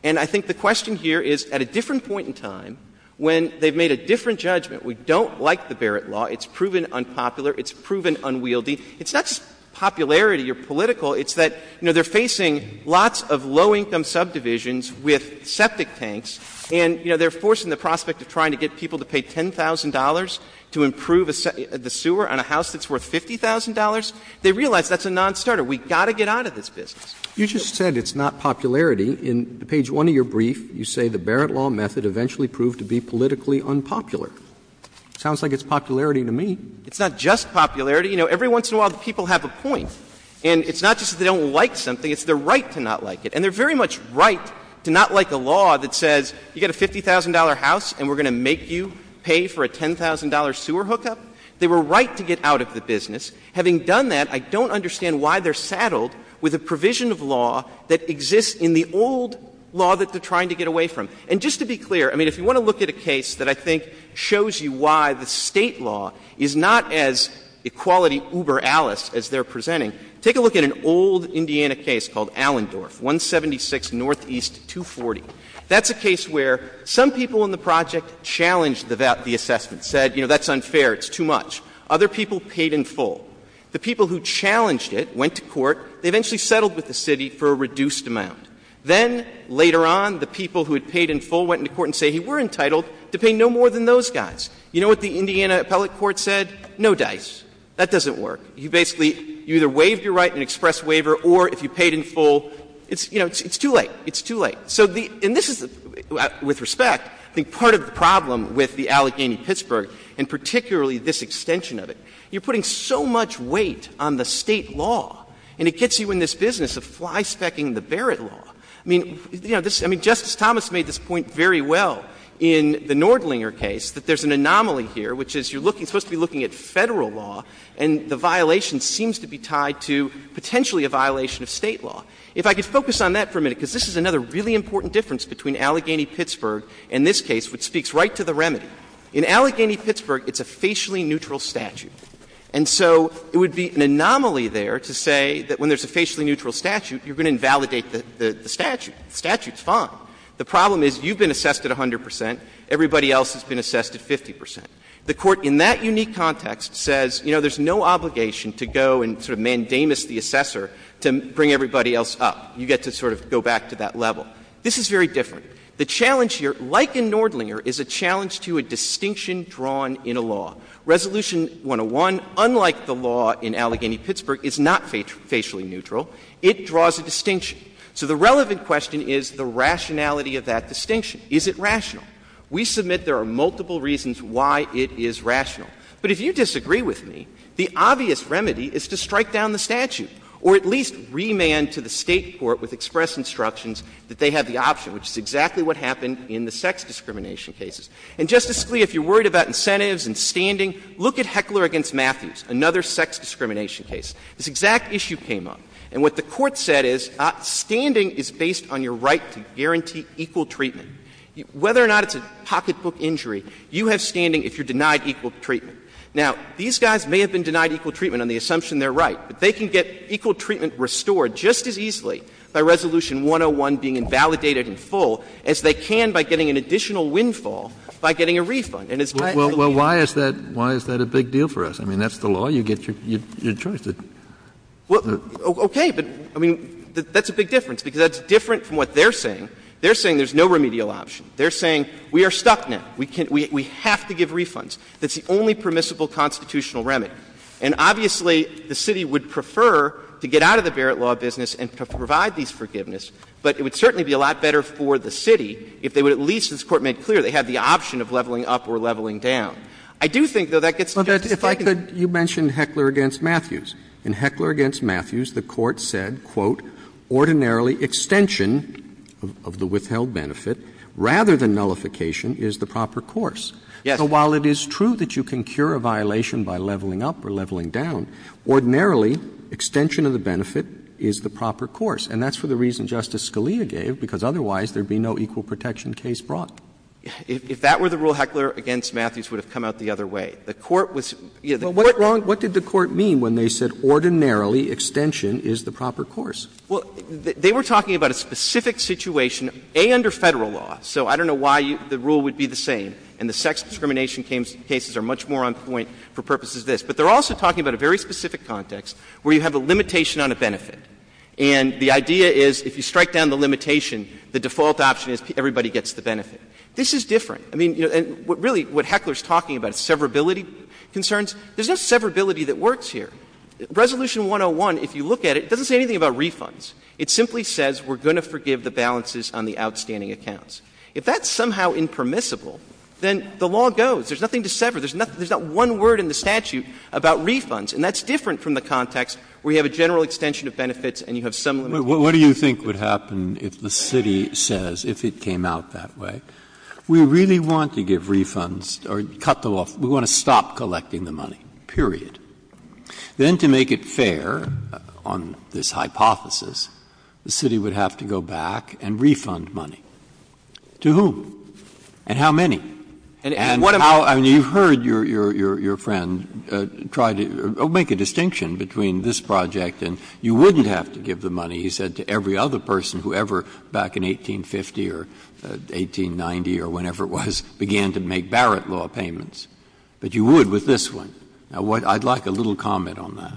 And I think the question here is, at a different point in time, when they've made a different judgment, we don't like the Barrett Law, it's proven unpopular, it's proven unwieldy. It's not just popularity or political, it's that, you know, they're facing lots of low-income subdivisions with septic tanks, and, you know, they're forcing the prospect of trying to get people to pay $10,000 to improve the sewer on a house that's worth $50,000. They realize that's a nonstarter. We've got to get out of this business. Roberts. You just said it's not popularity. In page 1 of your brief, you say the Barrett Law method eventually proved to be politically unpopular. Sounds like it's popularity to me. It's not just popularity. You know, every once in a while, the people have a point. And it's not just that they don't like something, it's their right to not like it. And they're very much right to not like a law that says you get a $50,000 house and we're going to make you pay for a $10,000 sewer hookup. They were right to get out of the business. Having done that, I don't understand why they're saddled with a provision of law that exists in the old law that they're trying to get away from. And just to be clear, I mean, if you want to look at a case that I think shows you why the State law is not as equality uber alice as they're presenting, take a look at an old Indiana case called Allendorf, 176 Northeast 240. That's a case where some people in the project challenged the assessment, said, you know, that's unfair, it's too much. Other people paid in full. The people who challenged it went to court. They eventually settled with the city for a reduced amount. Then later on, the people who had paid in full went into court and said he were entitled to pay no more than those guys. You know what the Indiana appellate court said? No dice. That doesn't work. You basically, you either waived your right in an express waiver or if you paid in full, it's too late. It's too late. And this is, with respect, I think part of the problem with the Allegheny-Pittsburgh and particularly this extension of it, you're putting so much weight on the State law, and it gets you in this business of flyspecking the Barrett law. I mean, Justice Thomas made this point very well in the Nordlinger case, that there's an anomaly here, which is you're supposed to be looking at Federal law, and the violation seems to be tied to potentially a violation of State law. If I could focus on that for a minute, because this is another really important difference between Allegheny-Pittsburgh and this case, which speaks right to the remedy. In Allegheny-Pittsburgh, it's a facially neutral statute. And so it would be an anomaly there to say that when there's a facially neutral statute, you're going to invalidate the statute. The statute's fine. The problem is you've been assessed at 100 percent. Everybody else has been assessed at 50 percent. The Court in that unique context says, you know, there's no obligation to go and sort of mandamus the assessor to bring everybody else up. You get to sort of go back to that level. This is very different. The challenge here, like in Nordlinger, is a challenge to a distinction drawn in a law. Resolution 101, unlike the law in Allegheny-Pittsburgh, is not facially neutral. It draws a distinction. So the relevant question is the rationality of that distinction. Is it rational? We submit there are multiple reasons why it is rational. But if you disagree with me, the obvious remedy is to strike down the statute or at least remand to the State court with express instructions that they have the option, which is exactly what happened in the sex discrimination cases. And, Justice Scalia, if you're worried about incentives and standing, look at Heckler v. Matthews, another sex discrimination case. This exact issue came up. And what the Court said is standing is based on your right to guarantee equal treatment. Whether or not it's a pocketbook injury, you have standing if you're denied equal treatment. Now, these guys may have been denied equal treatment on the assumption they're right, but they can get equal treatment restored just as easily by Resolution 101 being invalidated in full as they can by getting an additional windfall by getting a refund. And it's not really an option. Kennedy. Well, why is that a big deal for us? I mean, that's the law. You get your choice. Okay. But, I mean, that's a big difference, because that's different from what they're saying. They're saying there's no remedial option. They're saying we are stuck now. We have to give refunds. That's the only permissible constitutional remedy. And, obviously, the City would prefer to get out of the Barrett law business and provide these forgiveness, but it would certainly be a lot better for the City if they would at least, as the Court made clear, they had the option of leveling up or leveling down. I do think, though, that gets suggested. Well, if I could, you mentioned Heckler v. Matthews. In Heckler v. Matthews, the Court said, quote, ''Ordinarily, extension of the withheld benefit rather than nullification is the proper course.'' So while it is true that you can cure a violation by leveling up or leveling down, ordinarily, extension of the benefit is the proper course. And that's for the reason Justice Scalia gave, because otherwise there would be no equal protection case brought. If that were the rule, Heckler v. Matthews would have come out the other way. The Court was, you know, the Court was Well, what wrong, what did the Court mean when they said, ordinarily, extension is the proper course? Well, they were talking about a specific situation, A, under Federal law. So I don't know why the rule would be the same. And the sex discrimination cases are much more on point for purposes of this. But they're also talking about a very specific context where you have a limitation on a benefit. And the idea is if you strike down the limitation, the default option is everybody gets the benefit. This is different. I mean, really what Heckler is talking about is severability concerns. There's no severability that works here. Resolution 101, if you look at it, doesn't say anything about refunds. It simply says we're going to forgive the balances on the outstanding accounts. If that's somehow impermissible, then the law goes. There's nothing to sever. There's not one word in the statute about refunds. And that's different from the context where you have a general extension of benefits and you have some limitation. Breyer. What do you think would happen if the city says, if it came out that way, we really want to give refunds, or cut them off, we want to stop collecting the money, period. Then to make it fair on this hypothesis, the city would have to go back and refund money. To whom? And how many? And how do you heard your friend try to make a distinction between this project and you wouldn't have to give the money, he said, to every other person who ever back in 1850 or 1890 or whenever it was began to make Barrett law payments. But you would with this one. Now, I'd like a little comment on that.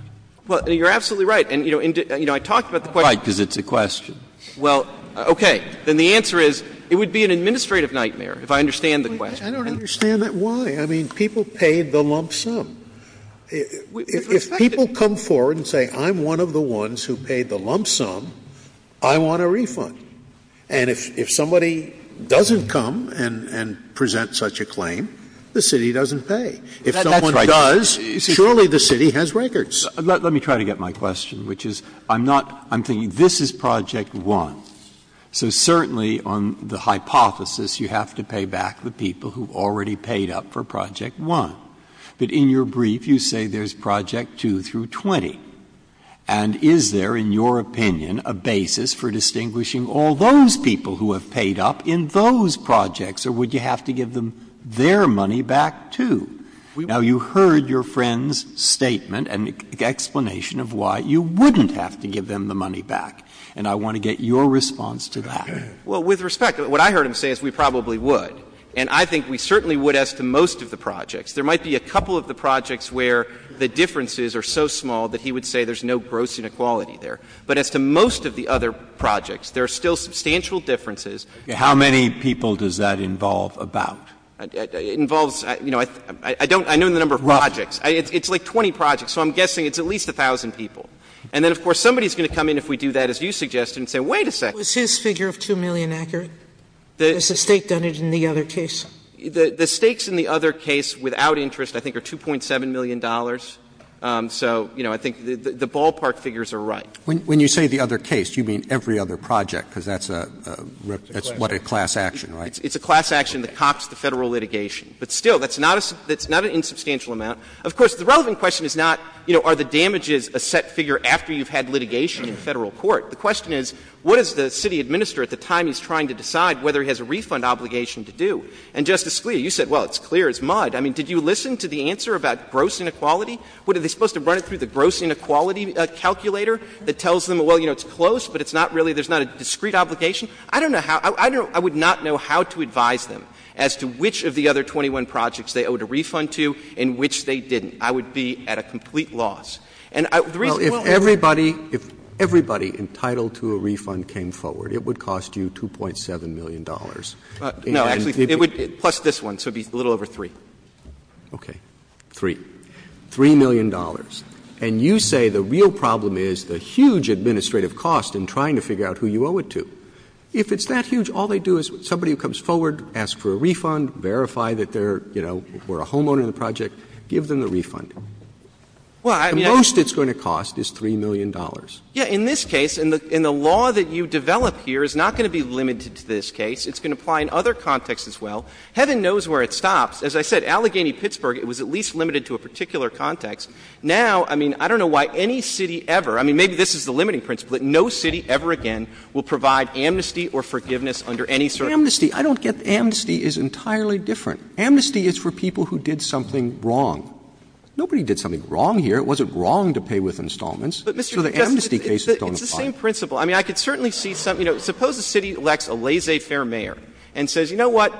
Well, you're absolutely right. And, you know, I talked about the question. Right, because it's a question. Well, okay. Then the answer is it would be an administrative nightmare, if I understand the question. I don't understand that. Why? I mean, people paid the lump sum. If people come forward and say, I'm one of the ones who paid the lump sum, I want a refund. And if somebody doesn't come and present such a claim, the city doesn't pay. If someone does, surely the city has records. Let me try to get my question, which is, I'm not — I'm thinking this is Project 1. So certainly on the hypothesis, you have to pay back the people who already paid up for Project 1. But in your brief, you say there's Project 2 through 20. And is there, in your opinion, a basis for distinguishing all those people who have paid up in those projects, or would you have to give them their money back, too? Now, you heard your friend's statement and explanation of why you wouldn't have to give them the money back, and I want to get your response to that. Well, with respect, what I heard him say is we probably would. And I think we certainly would as to most of the projects. There might be a couple of the projects where the differences are so small that he would say there's no gross inequality there. But as to most of the other projects, there are still substantial differences. How many people does that involve about? It involves — you know, I don't — I know the number of projects. Rough. It's like 20 projects. So I'm guessing it's at least 1,000 people. And then, of course, somebody is going to come in if we do that, as you suggested, and say, wait a second. Was his figure of 2 million accurate? Has the State done it in the other case? The stakes in the other case without interest, I think, are $2.7 million. So, you know, I think the ballpark figures are right. When you say the other case, you mean every other project, because that's a — that's what a class action, right? It's a class action that cops the Federal litigation. But still, that's not an insubstantial amount. Of course, the relevant question is not, you know, are the damages a set figure after you've had litigation in Federal court? The question is, what does the City Administrator at the time he's trying to decide whether he has a refund obligation to do? And, Justice Scalia, you said, well, it's clear it's mud. I mean, did you listen to the answer about gross inequality? What, are they supposed to run it through the gross inequality calculator that tells them, well, you know, it's close, but it's not really — there's not a discrete obligation? I don't know how — I would not know how to advise them as to which of the other 21 projects they owed a refund to and which they didn't. I would be at a complete loss. And the reason — If everybody — if everybody entitled to a refund came forward, it would cost you $2.7 million. And if you — No, actually, it would — plus this one, so it would be a little over 3. Okay. 3. $3 million. And you say the real problem is the huge administrative cost in trying to figure out who you owe it to. If it's that huge, all they do is somebody who comes forward, asks for a refund, verify that they're, you know, were a homeowner in the project, give them the refund. The most it's going to cost is $3 million. Yeah. In this case, and the law that you develop here is not going to be limited to this case. It's going to apply in other contexts as well. Heaven knows where it stops. As I said, Allegheny-Pittsburgh, it was at least limited to a particular context. Now, I mean, I don't know why any city ever — I mean, maybe this is the limiting principle, but no city ever again will provide amnesty or forgiveness under any sort of — Amnesty. I don't get — amnesty is entirely different. Amnesty is for people who did something wrong. Nobody did something wrong here. It wasn't wrong to pay with installments. So the amnesty cases don't apply. It's the same principle. I mean, I could certainly see some — you know, suppose a city elects a laissez-faire mayor and says, you know what,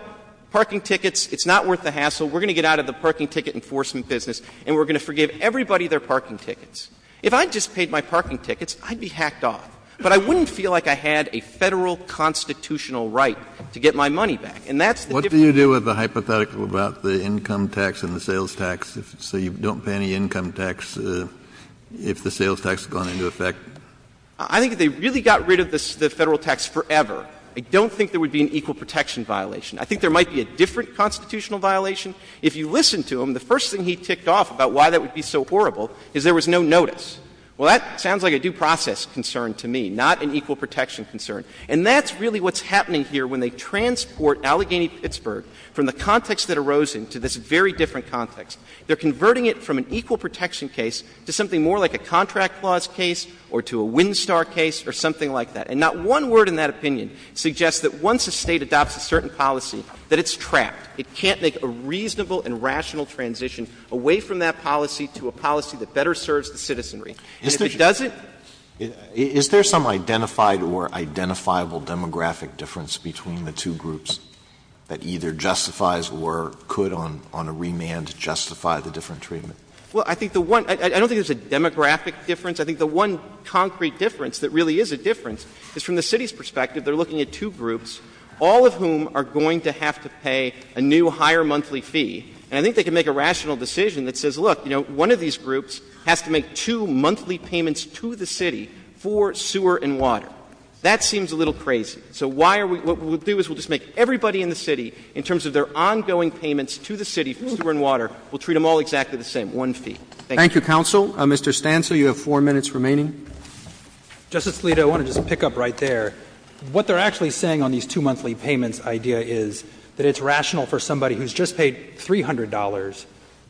parking tickets, it's not worth the hassle, we're going to get out of the parking ticket enforcement business, and we're going to forgive everybody their parking tickets. If I just paid my parking tickets, I'd be hacked off. But I wouldn't feel like I had a Federal constitutional right to get my money back. And that's the difficulty. Do you have a hypothetical about the income tax and the sales tax, so you don't pay any income tax if the sales tax has gone into effect? I think if they really got rid of the Federal tax forever, I don't think there would be an equal protection violation. I think there might be a different constitutional violation. If you listen to him, the first thing he ticked off about why that would be so horrible is there was no notice. Well, that sounds like a due process concern to me, not an equal protection concern. And that's really what's happening here when they transport Allegheny-Pittsburgh from the context that arose in to this very different context. They're converting it from an equal protection case to something more like a contract clause case or to a wind star case or something like that. And not one word in that opinion suggests that once a State adopts a certain policy that it's trapped. It can't make a reasonable and rational transition away from that policy to a policy that better serves the citizenry. And if it doesn't? Is there some identified or identifiable demographic difference between the two groups that either justifies or could on a remand justify the different treatment? Well, I think the one ‑‑ I don't think there's a demographic difference. I think the one concrete difference that really is a difference is from the city's perspective, they're looking at two groups, all of whom are going to have to pay a new, higher monthly fee. And I think they can make a rational decision that says, look, you know, one of these groups has to make two monthly payments to the city for sewer and water. That seems a little crazy. So why are we ‑‑ what we'll do is we'll just make everybody in the city, in terms of their ongoing payments to the city for sewer and water, we'll treat them all exactly the same, one fee. Thank you. Thank you, counsel. Mr. Stancil, you have 4 minutes remaining. Justice Alito, I want to just pick up right there. What they're actually saying on these two monthly payments idea is that it's rational for somebody who's just paid $300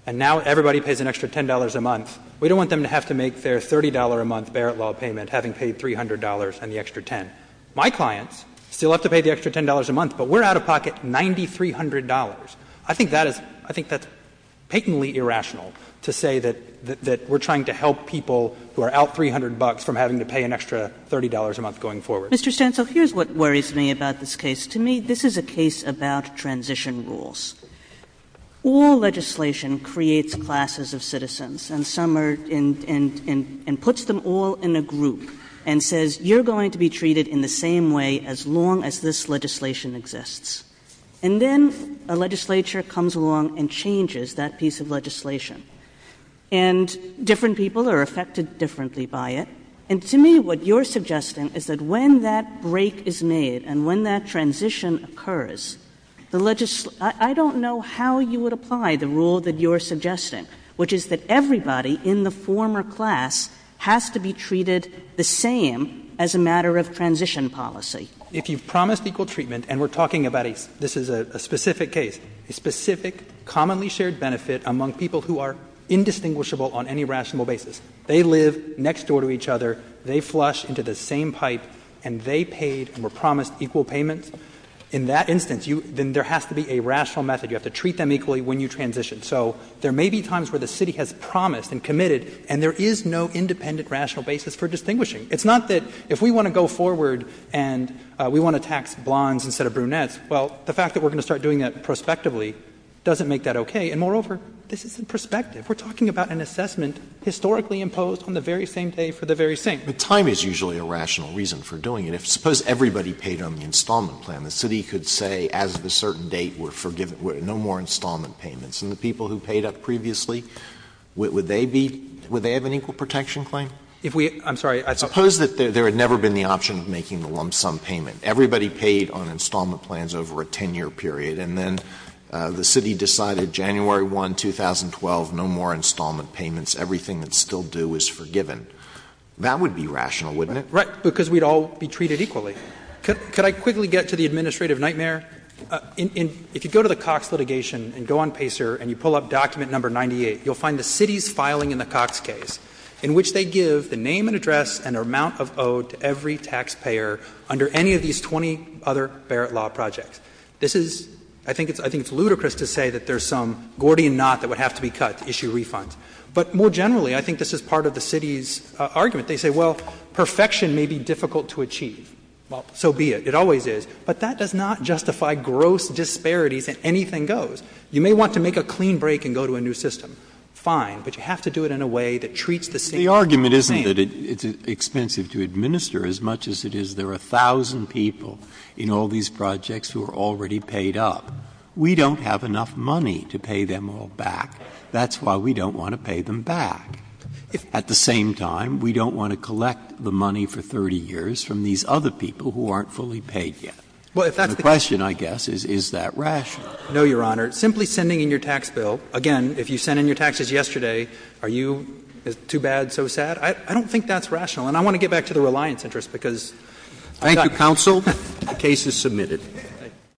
and now everybody pays an extra $10 a month. We don't want them to have to make their $30-a-month Barrett law payment, having paid $300 and the extra $10. My clients still have to pay the extra $10 a month, but we're out of pocket $9,300. I think that is ‑‑ I think that's patently irrational to say that we're trying to help people who are out $300 from having to pay an extra $30 a month going forward. Mr. Stancil, here's what worries me about this case. To me, this is a case about transition rules. All legislation creates classes of citizens and some are in ‑‑ and puts them all in a group and says you're going to be treated in the same way as long as this legislation exists. And then a legislature comes along and changes that piece of legislation. And different people are affected differently by it. And to me, what you're suggesting is that when that break is made and when that transition occurs, the ‑‑ I don't know how you would apply the rule that you're suggesting, which is that everybody in the former class has to be treated the same as a matter of transition policy. If you've promised equal treatment, and we're talking about a ‑‑ this is a specific case, a specific, commonly shared benefit among people who are indistinguishable on any rational basis, they live next door to each other, they flush into the same pipe, and they paid and were promised equal payments, in that instance, you ‑‑ then there has to be a rational method. You have to treat them equally when you transition. So there may be times where the city has promised and committed, and there is no independent rational basis for distinguishing. It's not that if we want to go forward and we want to tax blondes instead of brunettes, well, the fact that we're going to start doing that prospectively doesn't make that okay. And moreover, this isn't prospective. We're talking about an assessment historically imposed on the very same day for the very same. But time is usually a rational reason for doing it. Suppose everybody paid on the installment plan. The city could say, as of a certain date, we're forgiven, no more installment payments. And the people who paid up previously, would they be ‑‑ would they have an equal protection claim? If we ‑‑ I'm sorry. I suppose that there had never been the option of making the lump sum payment. Everybody paid on installment plans over a 10‑year period, and then the city decided January 1, 2012, no more installment payments. Everything that's still due is forgiven. That would be rational, wouldn't it? Right. Because we'd all be treated equally. Could I quickly get to the administrative nightmare? If you go to the Cox litigation and go on Pacer and you pull up document number 98, you'll find the city's filing in the Cox case, in which they give the name and address and amount of owe to every taxpayer under any of these 20 other Barrett law projects. This is ‑‑ I think it's ludicrous to say that there's some Gordian knot that would have to be cut to issue refunds. But more generally, I think this is part of the city's argument. They say, well, perfection may be difficult to achieve. Well, so be it. It always is. But that does not justify gross disparities in anything goes. You may want to make a clean break and go to a new system. Fine. But you have to do it in a way that treats the same. The argument isn't that it's expensive to administer as much as it is there are a thousand people in all these projects who are already paid up. We don't have enough money to pay them all back. That's why we don't want to pay them back. At the same time, we don't want to collect the money for 30 years from these other people who aren't fully paid yet. The question, I guess, is, is that rational? No, Your Honor. Simply sending in your tax bill, again, if you sent in your taxes yesterday, are you too bad, so sad? I don't think that's rational. And I want to get back to the reliance interest, because ‑‑ Thank you, counsel. The case is submitted.